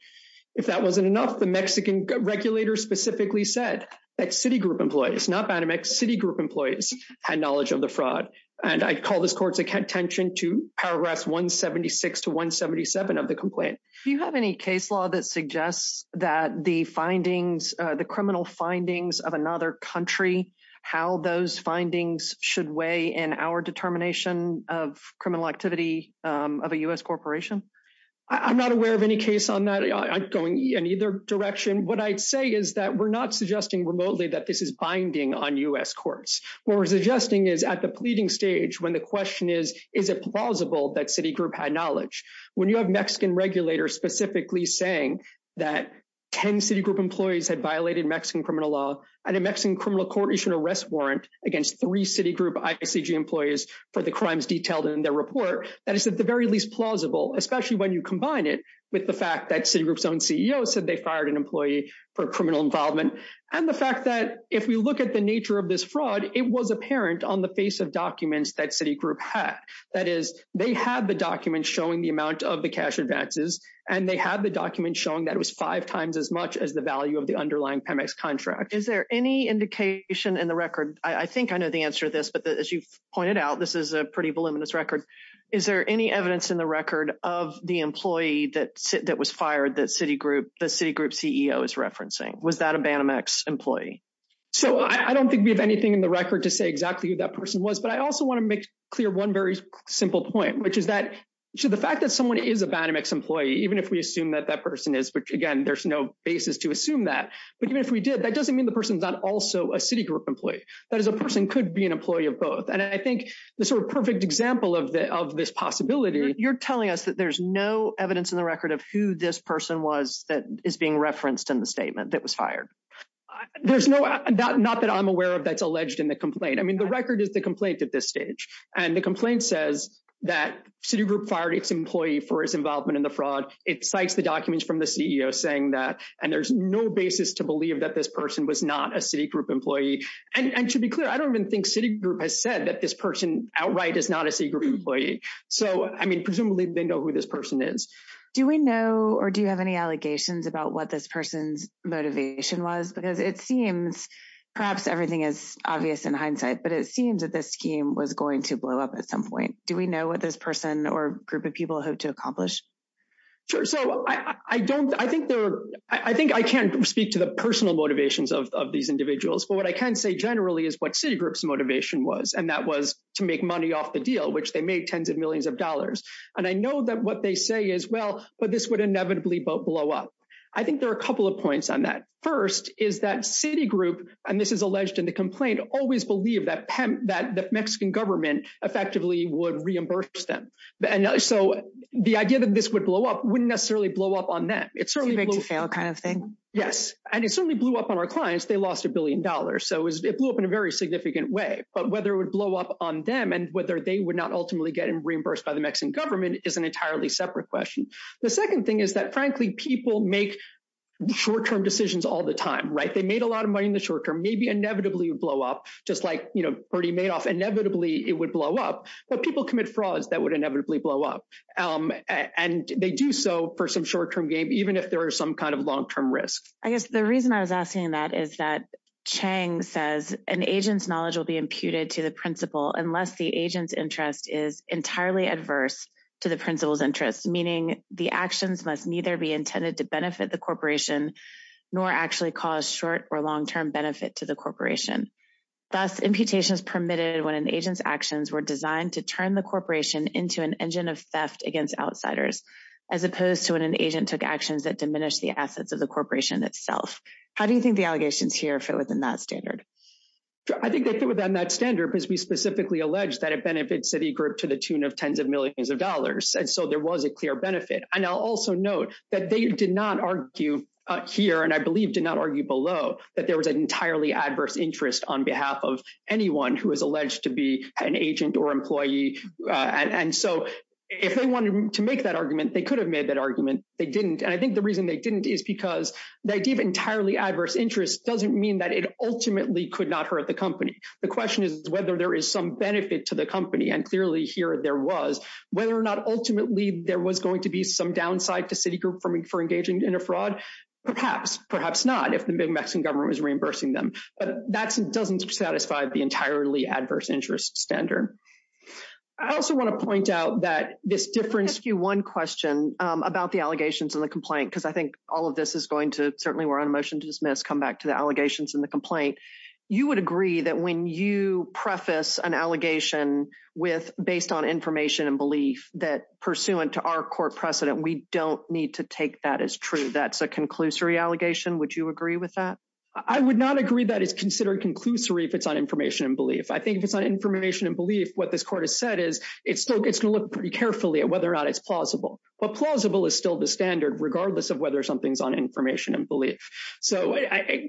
If that wasn't enough, the Mexican regulators specifically said that Citigroup employees, not Banamex, Citigroup employees had knowledge of the fraud. And I call this court's attention to paragraphs 176 to 177 of the complaint. Do you have any case law that suggests that the findings, the criminal findings of another country, how those findings should weigh in our determination of criminal activity of a U.S. corporation? I'm not aware of any case on that. I'm going in either direction. What I say is that we're not suggesting remotely that this is binding on U.S. courts. What we're suggesting is at the pleading stage when the question is, is it plausible that Citigroup had knowledge? When you have Mexican regulators specifically saying that 10 Citigroup employees had violated Mexican criminal law and a Mexican criminal court issued an arrest warrant against three Citigroup ICG employees for the crimes detailed in their report, that is at the very least plausible, especially when you combine it with the fact that Citigroup's own CEO said they fired an employee for criminal involvement. And the fact that if we look at the nature of this fraud, it was apparent on the face of documents that Citigroup had. That is, they have the documents showing the amount of the cash advances, and they have the documents showing that it was five times as much as the value of the underlying PEMEX contract. Is there any indication in the record? I think I know the answer to this, but as you pointed out, this is a pretty voluminous record. Is there any evidence in the record of the employee that was fired that Citigroup's CEO is referencing? Was that a Banamex employee? So I don't think we have anything in the record to say exactly who that person was. But I also want to make clear one very simple point, which is that the fact that someone is a Banamex employee, even if we assume that that person is, but again, there's no basis to assume that. But even if we did, that doesn't mean the person's not also a Citigroup employee. That is, a person could be an employee of both. And I think the sort of perfect example of this possibility, you're telling us that there's no evidence in the record of who this person was that is being referenced in the statement that was fired. There's no, not that I'm aware of that's alleged in the complaint. I mean, the record is the complaint at this stage. And the complaint says that Citigroup fired its employee for his involvement in the fraud. It cites the documents from the CEO saying that, and there's no basis to believe that this person was not a Citigroup employee. And to be clear, I don't even think Citigroup has said that this person outright is not a Citigroup employee. So, I mean, presumably they know who this person is. Do we know, or do you have any allegations about what this person's motivation was? Because it seems, perhaps everything is obvious in hindsight, but it seems that this scheme was going to blow up at some point. Do we know what this person or group of people hope to accomplish? Sure. So, I don't, I think there, I think I can't speak to the personal motivations of these individuals, but what I can say generally is what Citigroup's motivation was, and that was to make money off the deal, which they made tens of millions of dollars. And I know that what they say is, well, but this would inevitably blow up. I think there are a couple of points on that. First, is that Citigroup, and this is alleged in the complaint, always believed that the Mexican government effectively would reimburse them. And so, the idea that this would blow up wouldn't necessarily blow up on them. It certainly blew up on our clients. They lost a billion dollars. So, it blew up in a very significant way. But whether it would blow up on them and whether they would not ultimately get reimbursed by the Mexican government is an entirely separate question. The second thing is that, frankly, people make short-term decisions all the time, right? They made a lot of money in the short term, maybe inevitably it would blow up, just like, you know, Bernie Madoff, inevitably it would blow up. But people commit frauds that would inevitably blow up. And they do so for some short-term gain, even if there is some kind of long-term risk. I guess the reason I was asking that is that Chang says, an agent's knowledge will be imputed to the principal unless the agent's interest is entirely adverse to the principal's interest. Meaning, the actions must neither be intended to benefit the corporation nor actually cause short- or long-term benefit to the corporation. Thus, imputations permitted when an agent's actions were designed to turn the corporation into an engine of theft against outsiders, as opposed to when an agent took actions that diminished the assets of the corporation itself. How do you think the allegations here fit within that standard? I think they fit within that standard because we specifically allege that it benefits Citigroup to the tune of tens of millions of dollars, and so there was a clear benefit. And I'll also note that they did not argue here, and I believe did not argue below, that there was an entirely adverse interest on behalf of anyone who was alleged to be an agent or employee. And so if they wanted to make that argument, they could have made that argument. They didn't. And I think the reason they didn't is because the idea of entirely adverse interest doesn't mean that it ultimately could not hurt the company. The question is whether there is some benefit to the company, and clearly here there was. Whether or not ultimately there was going to be some downside to Citigroup for engaging in a fraud, perhaps. Perhaps not, if the big Mexican government was reimbursing them. But that doesn't satisfy the entirely adverse interest standard. I also want to point out that this different SKU 1 question about the allegations in the complaint, because I think all of this is going to, certainly we're on motion to dismiss, come back to the allegations in the complaint. You would agree that when you preface an allegation based on information and belief, that pursuant to our court precedent, we don't need to take that as true. That's a conclusory allegation. Would you agree with that? I would not agree that it's considered conclusory if it's on information and belief. I think if it's on information and belief, what this court has said is it's going to look pretty carefully at whether or not it's plausible. But plausible is still the standard, regardless of whether something's on information and belief. So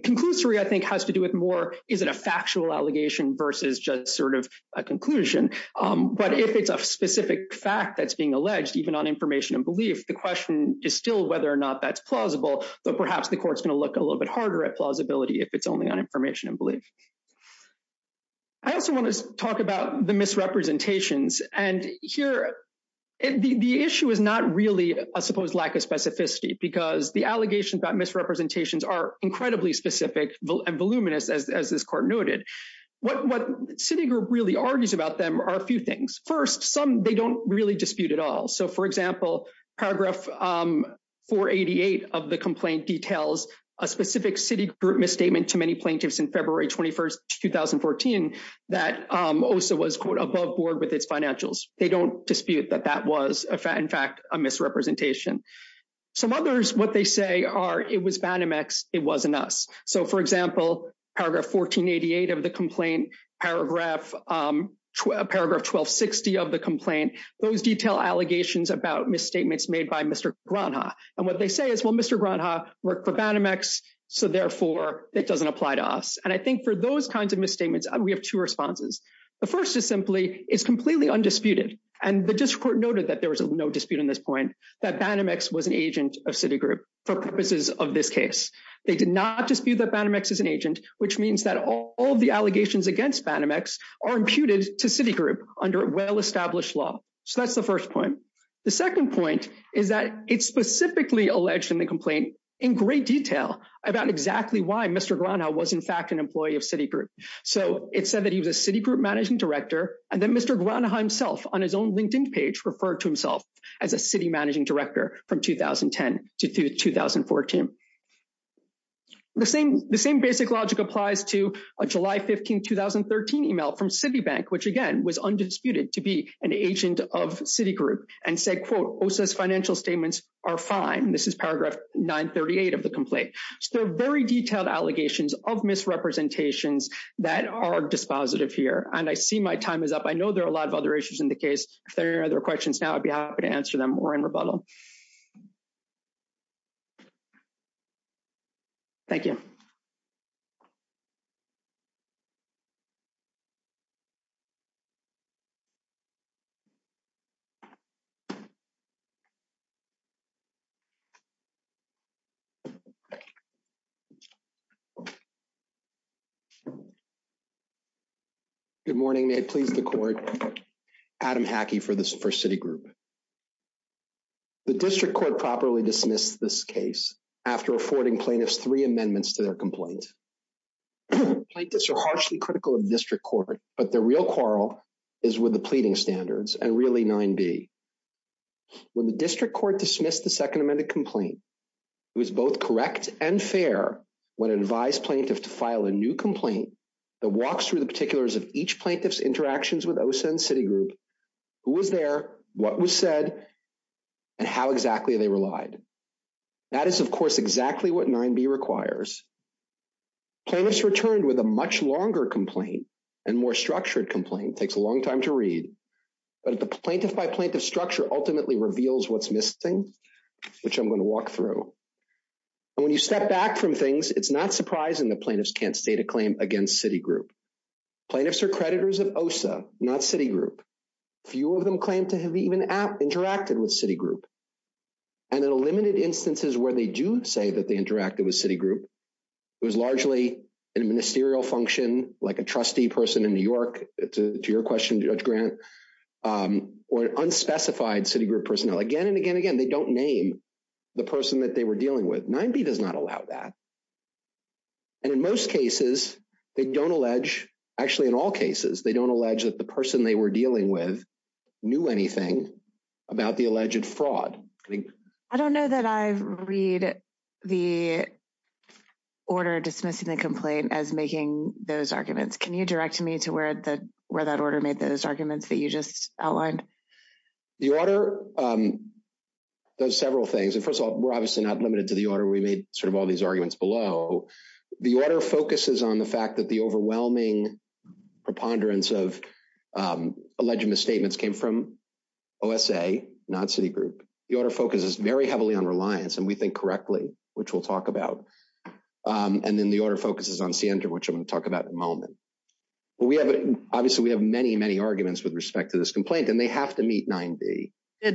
conclusory, I think, has to do with more, is it a factual allegation versus just sort of a conclusion? But if it's a specific fact that's being alleged, even on information and belief, the question is still whether or not that's plausible. But perhaps the court's going to look a little bit harder at plausibility if it's only on information and belief. I also want to talk about the misrepresentations. And here, the issue is not really a supposed lack of specificity, because the allegations about misrepresentations are incredibly specific and voluminous, as this court noted. What Citigroup really argues about them are a few things. First, some they don't really dispute at all. So, for example, paragraph 488 of the complaint details a specific Citigroup misstatement to many plaintiffs in February 21st, 2014, that OSA was, quote, above board with its financials. They don't dispute that that was, in fact, a misrepresentation. Some others, what they say are it was Banamex, it wasn't us. So, for example, paragraph 1488 of the complaint, paragraph 1260 of the complaint, those detail allegations about misstatements made by Mr. Granja. And what they say is, well, Mr. Granja worked for Banamex, so, therefore, it doesn't apply to us. And I think for those kinds of misstatements, we have two responses. The first is simply it's completely undisputed. And the district court noted that there was no dispute in this point, that Banamex was an agent of Citigroup for purposes of this case. They did not dispute that Banamex is an agent, which means that all the allegations against Banamex are imputed to Citigroup under well-established law. So that's the first point. The second point is that it's specifically alleged in the complaint in great detail about exactly why Mr. Granja was, in fact, an employee of Citigroup. So it said that he was a Citigroup managing director, and then Mr. Granja himself on his own LinkedIn page referred to himself as a Citigroup managing director from 2010 to 2014. The same basic logic applies to a July 15, 2013 email from Citibank, which, again, was undisputed to be an agent of Citigroup, and said, quote, OSA's financial statements are fine. This is paragraph 938 of the complaint. So very detailed allegations of misrepresentations that are dispositive here, and I see my time is up. I know there are a lot of other issues in the case. If there are any other questions now, I'd be happy to answer them or in rebuttal. Thank you. Good morning. I'm Adam Hackey for Citigroup. The district court properly dismissed this case after affording plaintiffs three amendments to their complaint. Plaintiffs are harshly critical of district court, but the real quarrel is with the pleading standards, and really 9B. When the district court dismissed the second amended complaint, it was both correct and fair when it advised plaintiffs to file a new complaint that walks through the particulars of each plaintiff's interactions with OSA and Citigroup, who was there, what was said, and how exactly they relied. That is, of course, exactly what 9B requires. Plaintiffs returned with a much longer complaint and more structured complaint. It takes a long time to read, but the plaintiff by plaintiff structure ultimately reveals what's missing, which I'm going to walk through. When you step back from things, it's not surprising that plaintiffs can't state a claim against Citigroup. Plaintiffs are creditors of OSA, not Citigroup. Few of them claim to have even interacted with Citigroup. And in limited instances where they do say that they interacted with Citigroup, it was largely a ministerial function, like a trustee person in New York, to your question, Judge Grant, or an unspecified Citigroup personnel. Again and again and again, they don't name the person that they were dealing with. 9B does not allow that. And in most cases, they don't allege, actually in all cases, they don't allege that the person they were dealing with knew anything about the alleged fraud. I don't know that I read the order dismissing the complaint as making those arguments. Can you direct me to where that order made those arguments that you just outlined? The order does several things. First of all, we're obviously not limited to the order. We made sort of all these arguments below. The order focuses on the fact that the overwhelming preponderance of alleged misstatements came from OSA, not Citigroup. The order focuses very heavily on reliance, and we think correctly, which we'll talk about. And then the order focuses on Siendra, which I'm going to talk about in a moment. Obviously, we have many, many arguments with respect to this complaint, and they have to meet 9B. Do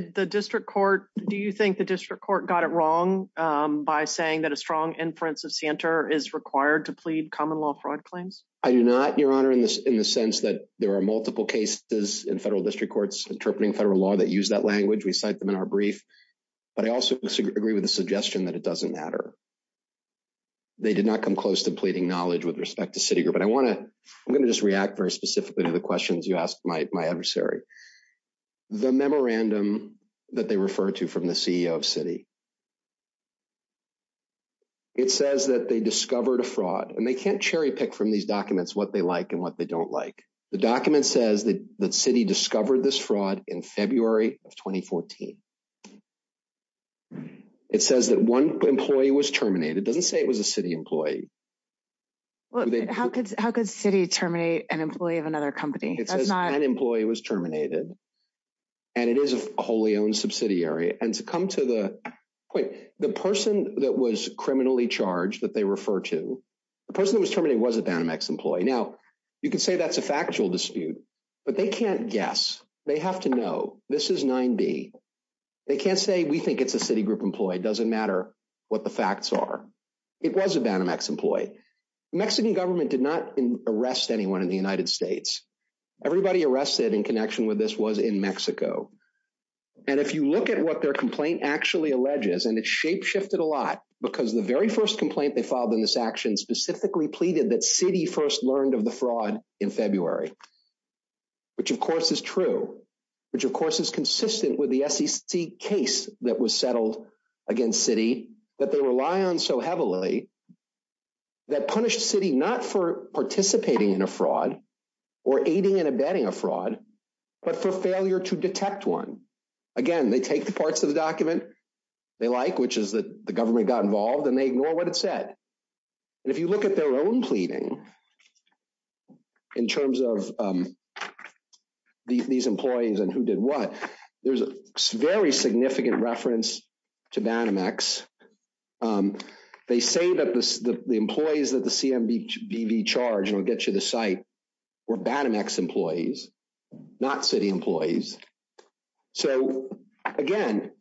you think the district court got it wrong by saying that a strong inference of Siendra is required to plead common law fraud claims? I do not, Your Honor, in the sense that there are multiple cases in federal district courts interpreting federal law that use that language. We cite them in our brief. But I also agree with the suggestion that it doesn't matter. They did not come close to pleading knowledge with respect to Citigroup. And I want to – I'm going to just react very specifically to the questions you asked my adversary. The memorandum that they refer to from the CEO of Citi, it says that they discovered a fraud. And they can't cherry-pick from these documents what they like and what they don't like. The document says that Citi discovered this fraud in February of 2014. It says that one employee was terminated. It doesn't say it was a Citi employee. How could Citi terminate an employee of another company? It says an employee was terminated. And it is a wholly owned subsidiary. And to come to the point, the person that was criminally charged that they refer to, the person that was terminated was a Banamex employee. Now, you could say that's a factual dispute. But they can't guess. They have to know. This is 9B. They can't say we think it's a Citigroup employee. It doesn't matter what the facts are. It was a Banamex employee. The Mexican government did not arrest anyone in the United States. Everybody arrested in connection with this was in Mexico. And if you look at what their complaint actually alleges, and it's shape-shifted a lot because the very first complaint they filed in this action specifically pleaded that Citi first learned of the fraud in February, which, of course, is true, which, of course, is consistent with the SEC case that was settled against Citi. But they rely on so heavily that punished Citi not for participating in a fraud or aiding and abetting a fraud, but for failure to detect one. Again, they take the parts of the document they like, which is that the government got involved, and they ignore what it said. If you look at their own pleading in terms of these employees and who did what, there's a very significant reference to Banamex. They say that the employees of the CMBV charge, and I'll get you the site, were Banamex employees, not Citi employees. So, again,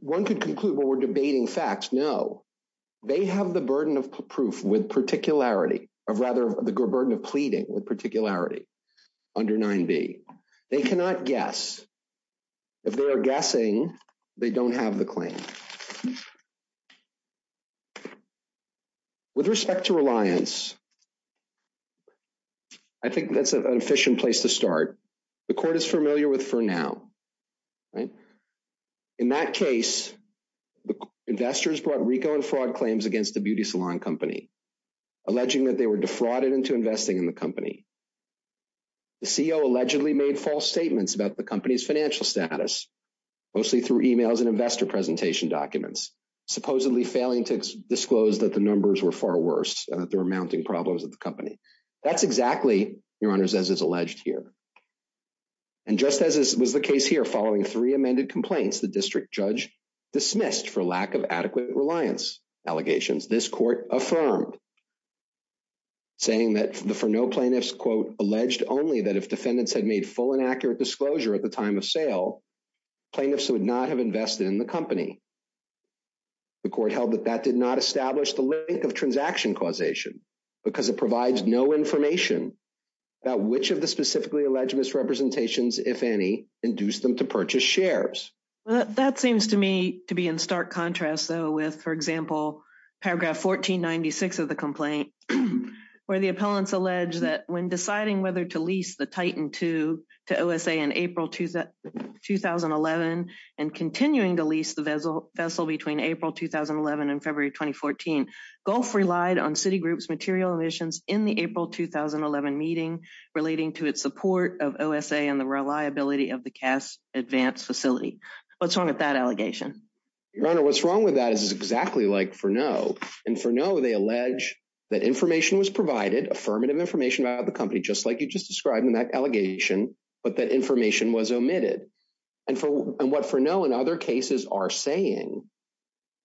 one could conclude, well, we're debating facts. No. They have the burden of proof with particularity, or rather, the burden of pleading with particularity under 9b. They cannot guess. If they are guessing, they don't have the claim. With respect to reliance, I think that's an efficient place to start. The court is familiar with for now. In that case, investors brought RICO and fraud claims against the beauty salon company, alleging that they were defrauded into investing in the company. The CEO allegedly made false statements about the company's financial status, mostly through e-mails and investor presentation documents, supposedly failing to disclose that the numbers were far worse. There were mounting problems with the company. That's exactly, Your Honors, as is alleged here. And just as was the case here, following three amended complaints, the district judge dismissed for lack of adequate reliance allegations. This court affirmed, saying that for no plaintiffs, quote, alleged only that if defendants had made full and accurate disclosure at the time of sale, plaintiffs would not have invested in the company. The court held that that did not establish the link of transaction causation because it provides no information about which of the specifically alleged misrepresentations, if any, induced them to purchase shares. That seems to me to be in stark contrast, though, with, for example, paragraph 1496 of the complaint, where the appellants allege that when deciding whether to lease the Titan II to OSA in April 2011 and continuing to lease the vessel between April 2011 and February 2014, Gulf relied on Citigroup's material omissions in the April 2011 meeting relating to its support of OSA and the reliability of the cast advanced facility. What's wrong with that allegation? Your Honor, what's wrong with that is exactly like for no. And for no, they allege that information was provided, affirmative information about the company, just like you just described in that allegation, but that information was omitted. And what for no in other cases are saying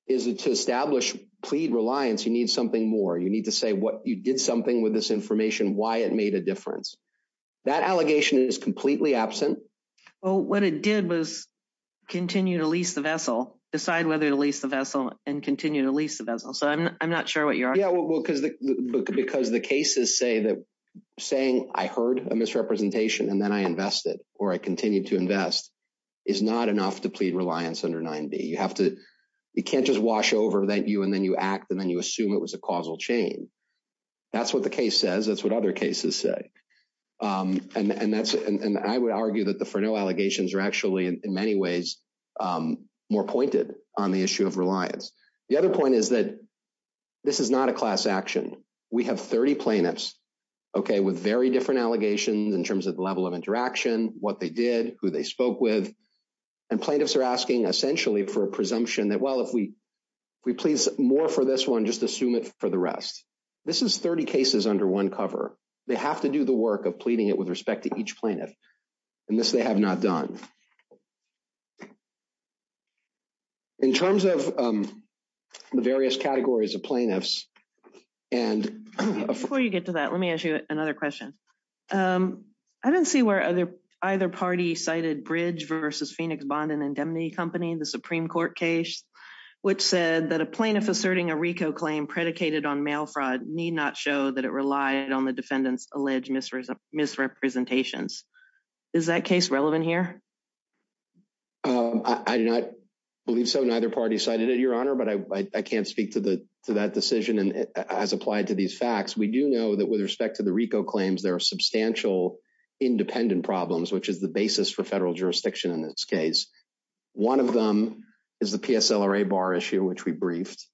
is to establish plea reliance, you need something more. You need to say you did something with this information, why it made a difference. That allegation is completely absent. Well, what it did was continue to lease the vessel, decide whether to lease the vessel, and continue to lease the vessel. So I'm not sure what you're arguing. Because the cases say that saying I heard a misrepresentation and then I invested or I continued to invest is not enough to plead reliance under 9B. You can't just wash over that view and then you act and then you assume it was a causal chain. That's what the case says. That's what other cases say. And I would argue that the for no allegations are actually in many ways more pointed on the issue of reliance. The other point is that this is not a class action. We have 30 plaintiffs, okay, with very different allegations in terms of the level of interaction, what they did, who they spoke with. And plaintiffs are asking essentially for a presumption that, well, if we please more for this one, just assume it for the rest. This is 30 cases under one cover. They have to do the work of pleading it with respect to each plaintiff. And this they have not done. In terms of the various categories of plaintiffs and before you get to that, let me ask you another question. I didn't see where either party cited bridge versus Phoenix Bond and Indemnity Company, the Supreme Court case, which said that a plaintiff asserting a RICO claim predicated on mail fraud need not show that it relied on the defendant's alleged misrepresentations. Is that case relevant here? I believe so. Neither party cited it, Your Honor, but I can't speak to that decision as applied to these facts. We do know that with respect to the RICO claims, there are substantial independent problems, which is the basis for federal jurisdiction in this case. One of them is the PSLRA bar issue, which we briefed,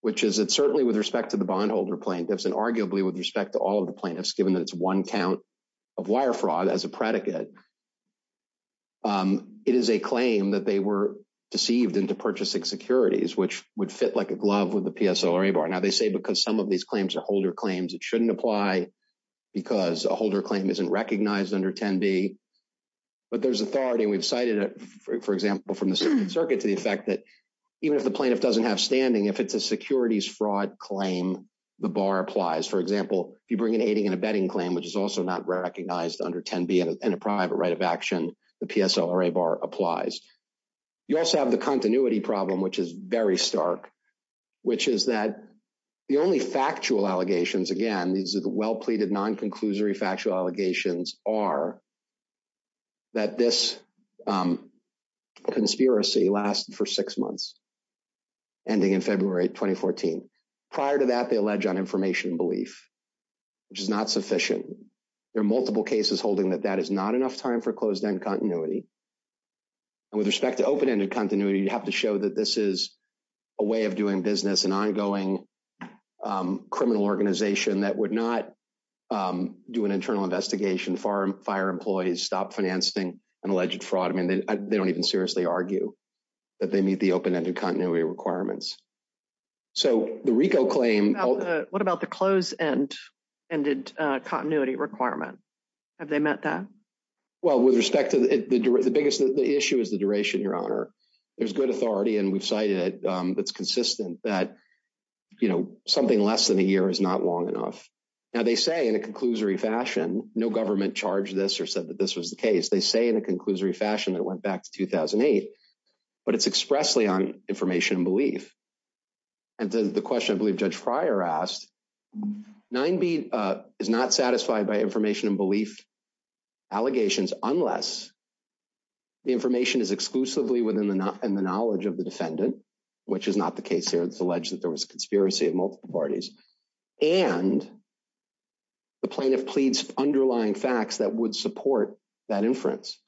which is that certainly with respect to the bondholder plaintiffs and arguably with respect to all of the plaintiffs, given that it's one count of wire fraud as a predicate. It is a claim that they were deceived into purchasing securities, which would fit like a glove with the PSLRA bar. Now, they say because some of these claims are holder claims, it shouldn't apply because a holder claim isn't recognized under 10B. But there's authority, and we've cited it, for example, from the Supreme Circuit to the effect that even if the plaintiff doesn't have standing, if it's a securities fraud claim, the bar applies. For example, if you bring an aiding and abetting claim, which is also not recognized under 10B in a private right of action, the PSLRA bar applies. You also have the continuity problem, which is very stark, which is that the only factual allegations, again, these are the well-pleaded non-conclusory factual allegations, are that this conspiracy lasted for six months, ending in February 2014. Prior to that, they allege uninformation belief, which is not sufficient. There are multiple cases holding that that is not enough time for closed-end continuity. With respect to open-ended continuity, you have to show that this is a way of doing business, an ongoing criminal organization that would not do an internal investigation, fire employees, stop financing an alleged fraud. I mean, they don't even seriously argue that they meet the open-ended continuity requirements. So the RICO claim— What about the closed-ended continuity requirements? Have they met that? Well, with respect to—the issue is the duration, Your Honor. There's good authority, and we've cited it, that's consistent that something less than a year is not long enough. Now, they say in a conclusory fashion, no government charged this or said that this was the case. They say in a conclusory fashion it went back to 2008, but it's expressly on information belief. And then the question, I believe Judge Fryer asked, 9B is not satisfied by information belief allegations unless the information is exclusively within the knowledge of the defendant, which is not the case here. It's alleged that there was a conspiracy of multiple parties, and the plaintiff pleads underlying facts that would support that inference.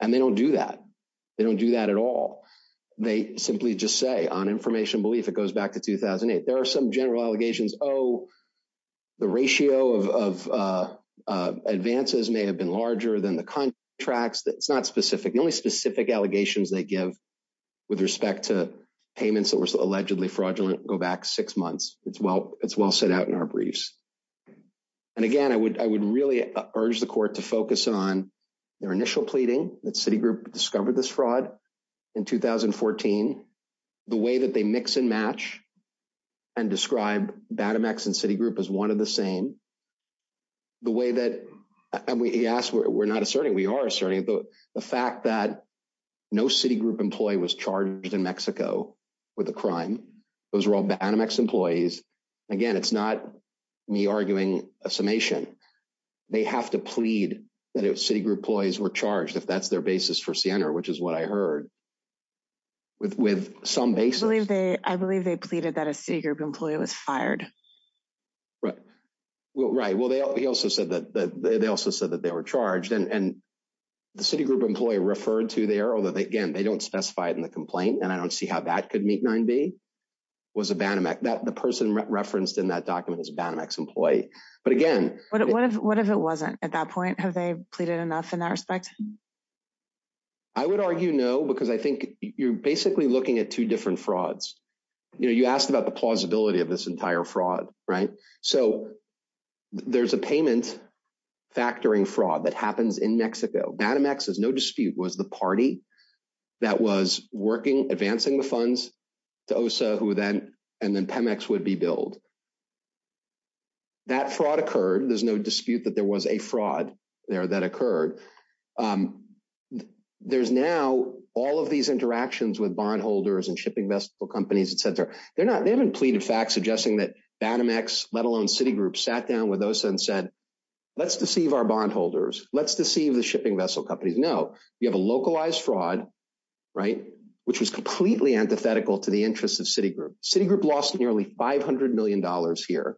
And they don't do that. They don't do that at all. They simply just say on information belief it goes back to 2008. There are some general allegations, oh, the ratio of advances may have been larger than the contracts. It's not specific. The only specific allegations they give with respect to payments that were allegedly fraudulent go back six months. It's well set out in our briefs. And again, I would really urge the Court to focus on their initial pleading that Citigroup discovered this fraud in 2014, the way that they mix and match and describe Banamex and Citigroup as one of the same, the way that, and we ask, we're not asserting, we are asserting the fact that no Citigroup employee was charged in Mexico with a crime. Those were all Banamex employees. Again, it's not me arguing a summation. They have to plead that if Citigroup employees were charged, if that's their basis for Siena, which is what I heard, with some basis. I believe they pleaded that a Citigroup employee was fired. Right. Well, right. Well, they also said that they also said that they were charged and the Citigroup employee referred to there, although again, they don't specify it in the complaint, and I don't see how that could meet 9B, was a Banamex. The person referenced in that document is a Banamex employee. But again. What if it wasn't at that point? Have they pleaded enough in that respect? I would argue no, because I think you're basically looking at two different frauds. You asked about the plausibility of this entire fraud, right? So there's a payment factoring fraud that happens in Mexico. Banamex, there's no dispute, was the party that was working, advancing the funds to OSA, and then Pemex would be billed. That fraud occurred. There's no dispute that there was a fraud there that occurred. There's now all of these interactions with bondholders and shipping vessel companies, et cetera. They haven't pleaded facts suggesting that Banamex, let alone Citigroup, sat down with OSA and said, let's deceive our bondholders. Let's deceive the shipping vessel companies. No. You have a localized fraud, right, which is completely antithetical to the interests of Citigroup. Citigroup lost nearly $500 million here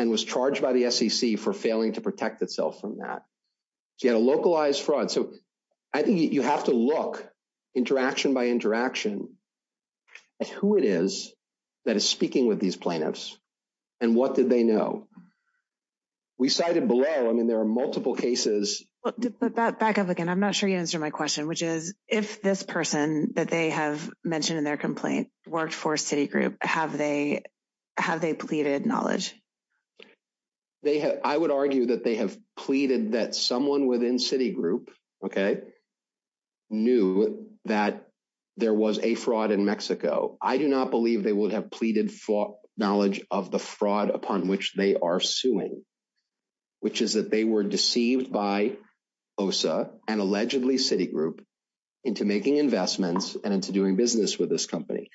and was charged by the SEC for failing to protect itself from that. So you have a localized fraud. So I think you have to look, interaction by interaction, at who it is that is speaking with these plaintiffs and what did they know. We cited below. I mean, there are multiple cases. Back up again. I'm not sure you answered my question, which is, if this person that they have mentioned in their complaint worked for Citigroup, have they pleaded knowledge? I would argue that they have pleaded that someone within Citigroup, okay, knew that there was a fraud in Mexico. I do not believe they would have pleaded knowledge of the fraud upon which they are suing, which is that they were deceived by OSA and allegedly Citigroup into making investments and into doing business with this company.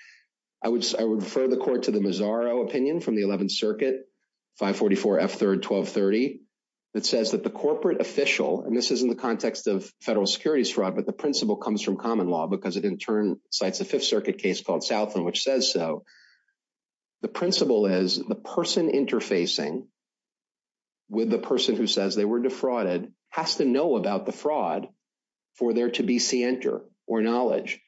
I would refer the court to the Mazzaro opinion from the 11th Circuit, 544F3R1230, that says that the corporate official, and this is in the context of federal securities fraud, but the principle comes from common law because it in turn cites a Fifth Circuit case called Southland, which says so. The principle is the person interfacing with the person who says they were defrauded has to know about the fraud for there to be scienter or knowledge.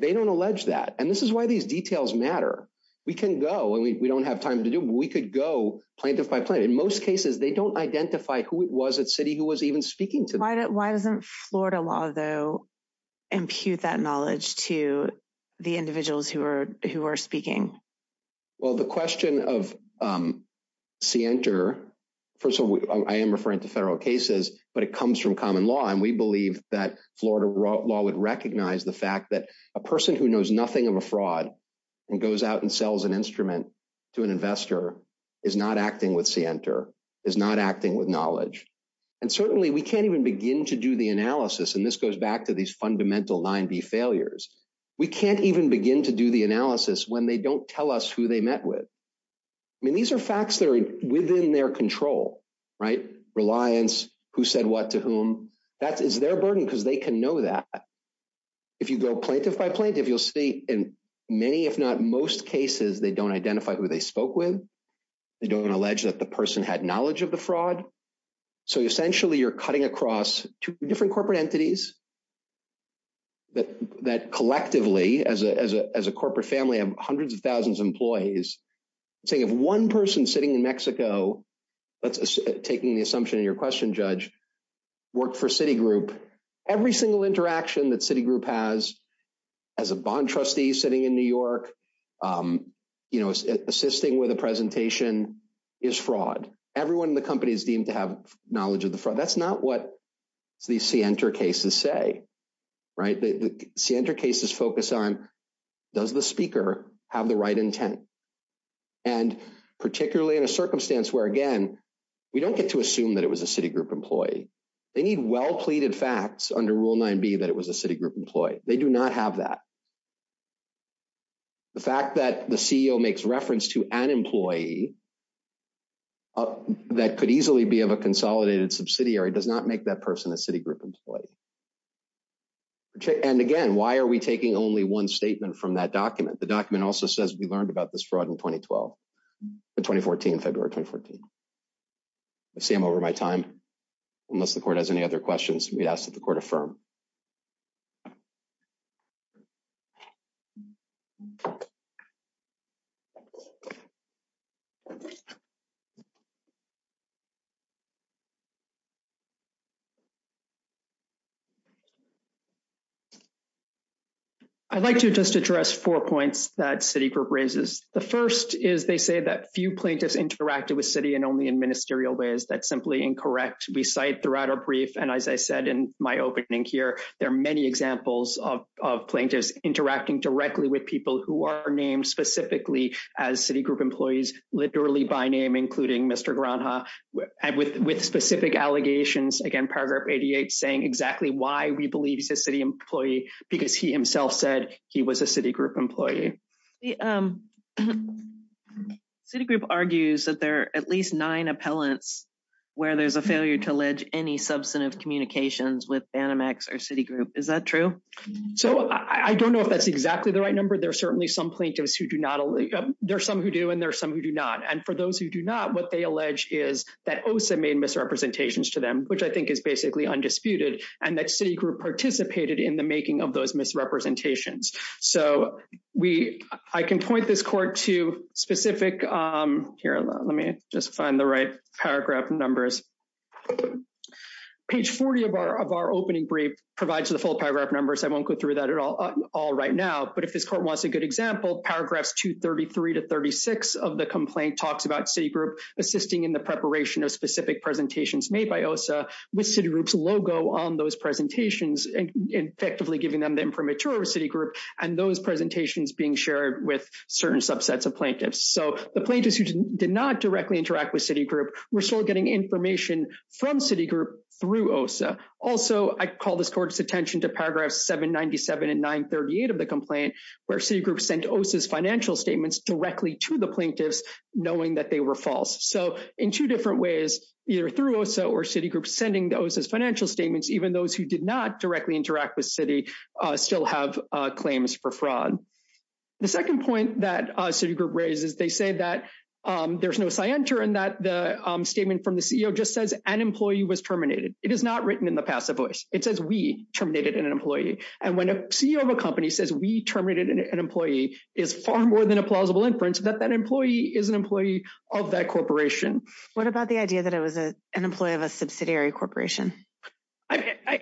They don't allege that, and this is why these details matter. We can go, and we don't have time to do, but we could go plaintiff by plaintiff. In most cases, they don't identify who it was at Citi who was even speaking to them. Why doesn't Florida law, though, impute that knowledge to the individuals who are speaking? Well, the question of scienter, first of all, I am referring to federal cases, but it comes from common law, and we believe that Florida law would recognize the fact that a person who knows nothing of a fraud and goes out and sells an instrument to an investor is not acting with scienter, is not acting with knowledge. And certainly, we can't even begin to do the analysis, and this goes back to these fundamental line B failures. We can't even begin to do the analysis when they don't tell us who they met with. I mean, these are facts that are within their control, right? Reliance, who said what to whom, that is their burden because they can know that. If you go plaintiff by plaintiff, you'll see in many, if not most cases, they don't identify who they spoke with. They don't allege that the person had knowledge of the fraud. So, essentially, you're cutting across two different corporate entities that collectively, as a corporate family of hundreds of thousands of employees, say, if one person sitting in Mexico, taking the assumption of your question, judge, work for Citigroup, every single interaction that Citigroup has as a bond trustee sitting in New York, you know, assisting with a presentation is fraud. Everyone in the company is deemed to have knowledge of the fraud. That's not what these Sienta cases say, right? The Sienta cases focus on, does the speaker have the right intent? And particularly in a circumstance where, again, we don't get to assume that it was a Citigroup employee. They need well-pleaded facts under Rule 9b that it was a Citigroup employee. They do not have that. The fact that the CEO makes reference to an employee that could easily be of a consolidated subsidiary does not make that person a Citigroup employee. And, again, why are we taking only one statement from that document? The document also says we learned about this fraud in 2012, in 2014, February 2014. I see I'm over my time. Unless the court has any other questions, we ask that the court affirm. Thank you. I'd like to just address four points that Citigroup raises. The first is they say that few plaintiffs interacted with Citi and only in ministerial ways. That's simply incorrect. We cite throughout our brief, and as I said in my opening here, there are many examples of plaintiffs interacting directly with people who are named specifically as Citigroup employees, literally by name, including Mr. Brownhaw, with specific allegations, again, paragraph 88, saying exactly why we believe he's a Citigroup employee, because he himself said he was a Citigroup employee. Citigroup argues that there are at least nine appellants where there's a failure to allege any substantive communications with Banamex or Citigroup. Is that true? So, I don't know if that's exactly the right number. There are certainly some plaintiffs who do not. There are some who do, and there are some who do not. And for those who do not, what they allege is that OSA made misrepresentations to them, which I think is basically undisputed, and that Citigroup participated in the making of those misrepresentations. So, I can point this court to specific – here, let me just find the right paragraph numbers. Page 40 of our opening brief provides the full paragraph numbers. I won't go through that at all right now. But if this court wants a good example, paragraphs 233 to 36 of the complaint talks about Citigroup assisting in the preparation of specific presentations made by OSA with Citigroup's logo on those presentations and effectively giving them the information of Citigroup and those presentations being shared with certain subsets of plaintiffs. So, the plaintiffs who did not directly interact with Citigroup were still getting information from Citigroup through OSA. Also, I call this court's attention to paragraphs 797 and 938 of the complaint, where Citigroup sent OSA's financial statements directly to the plaintiffs, knowing that they were false. So, in two different ways, either through OSA or Citigroup sending OSA's financial statements, even those who did not directly interact with Citi still have claims for fraud. The second point that Citigroup raises, they say that there's no scienter in that the statement from the CEO just says an employee was terminated. It is not written in the passive voice. It says we terminated an employee. And when a CEO of a company says we terminated an employee is far more than a plausible inference that that employee is an employee of that corporation. What about the idea that it was an employee of a subsidiary corporation?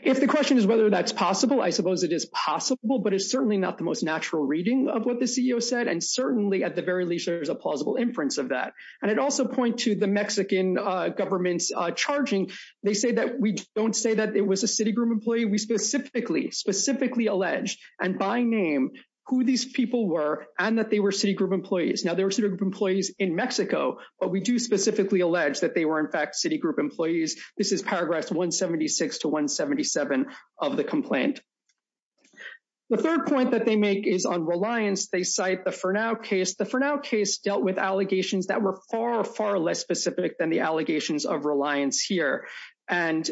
If the question is whether that's possible, I suppose it is possible, but it's certainly not the most natural reading of what the CEO said. And certainly, at the very least, there's a plausible inference of that. And I'd also point to the Mexican government's charging. They say that we don't say that it was a Citigroup employee. We specifically, specifically allege, and by name, who these people were and that they were Citigroup employees. Now, they were Citigroup employees in Mexico, but we do specifically allege that they were, in fact, Citigroup employees. This is Paragraphs 176 to 177 of the complaint. The third point that they make is on reliance. They cite the Fernow case. The Fernow case dealt with allegations that were far, far less specific than the allegations of reliance here. And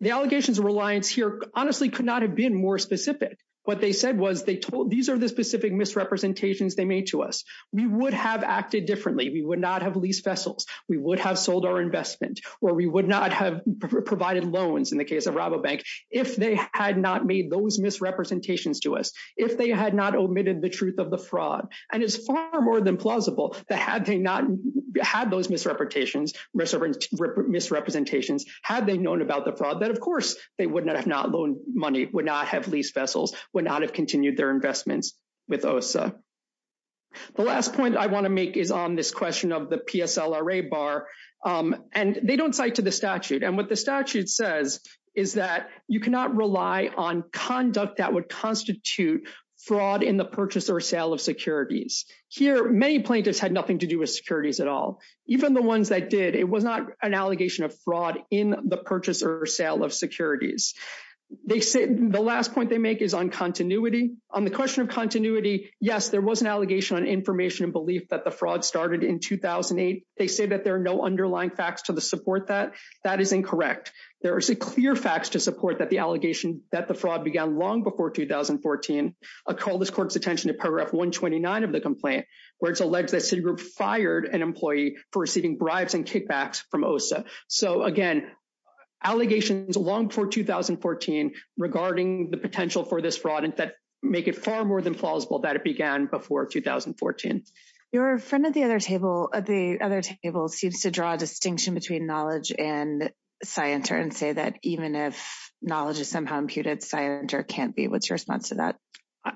the allegations of reliance here honestly could not have been more specific. What they said was they told these are the specific misrepresentations they made to us. We would have acted differently. We would not have leased vessels. We would have sold our investment, or we would not have provided loans in the case of Rabobank if they had not made those misrepresentations to us, if they had not omitted the truth of the fraud. And it's far more than plausible that had they not had those misrepresentations, had they known about the fraud, then, of course, they would not have not loaned money, would not have leased vessels, would not have continued their investments with OSA. The last point I want to make is on this question of the PSLRA bar. And they don't cite to the statute. And what the statute says is that you cannot rely on conduct that would constitute fraud in the purchase or sale of securities. Here, many plaintiffs had nothing to do with securities at all. Even the ones that did, it was not an allegation of fraud in the purchase or sale of securities. The last point they make is on continuity. On the question of continuity, yes, there was an allegation on information and belief that the fraud started in 2008. They say that there are no underlying facts to support that. That is incorrect. There are clear facts to support that the allegation that the fraud began long before 2014. I call this court's attention to paragraph 129 of the complaint, where it's alleged that Citigroup fired an employee for receiving bribes and kickbacks from OSA. So, again, allegations long before 2014 regarding the potential for this fraud make it far more than plausible that it began before 2014. Your friend at the other table seems to draw a distinction between knowledge and scienter and say that even if knowledge is somehow imputed, scienter can't be able to respond to that.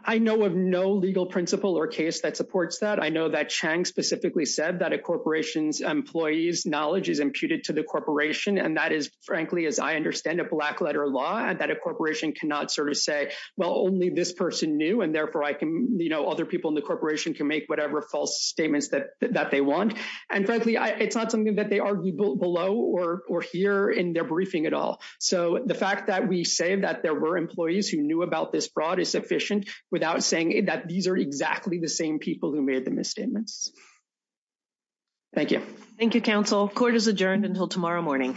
I know of no legal principle or case that supports that. I know that Chang specifically said that a corporation's employee's knowledge is imputed to the corporation. And that is, frankly, as I understand it, black-letter law, and that a corporation cannot sort of say, well, only this person knew. And, therefore, I can, you know, other people in the corporation can make whatever false statements that they want. And, frankly, it's not something that they argue below or here in their briefing at all. So, the fact that we say that there were employees who knew about this fraud is sufficient without saying that these are exactly the same people who made the misstatements. Thank you. Thank you, counsel. Court is adjourned until tomorrow morning. Thank you.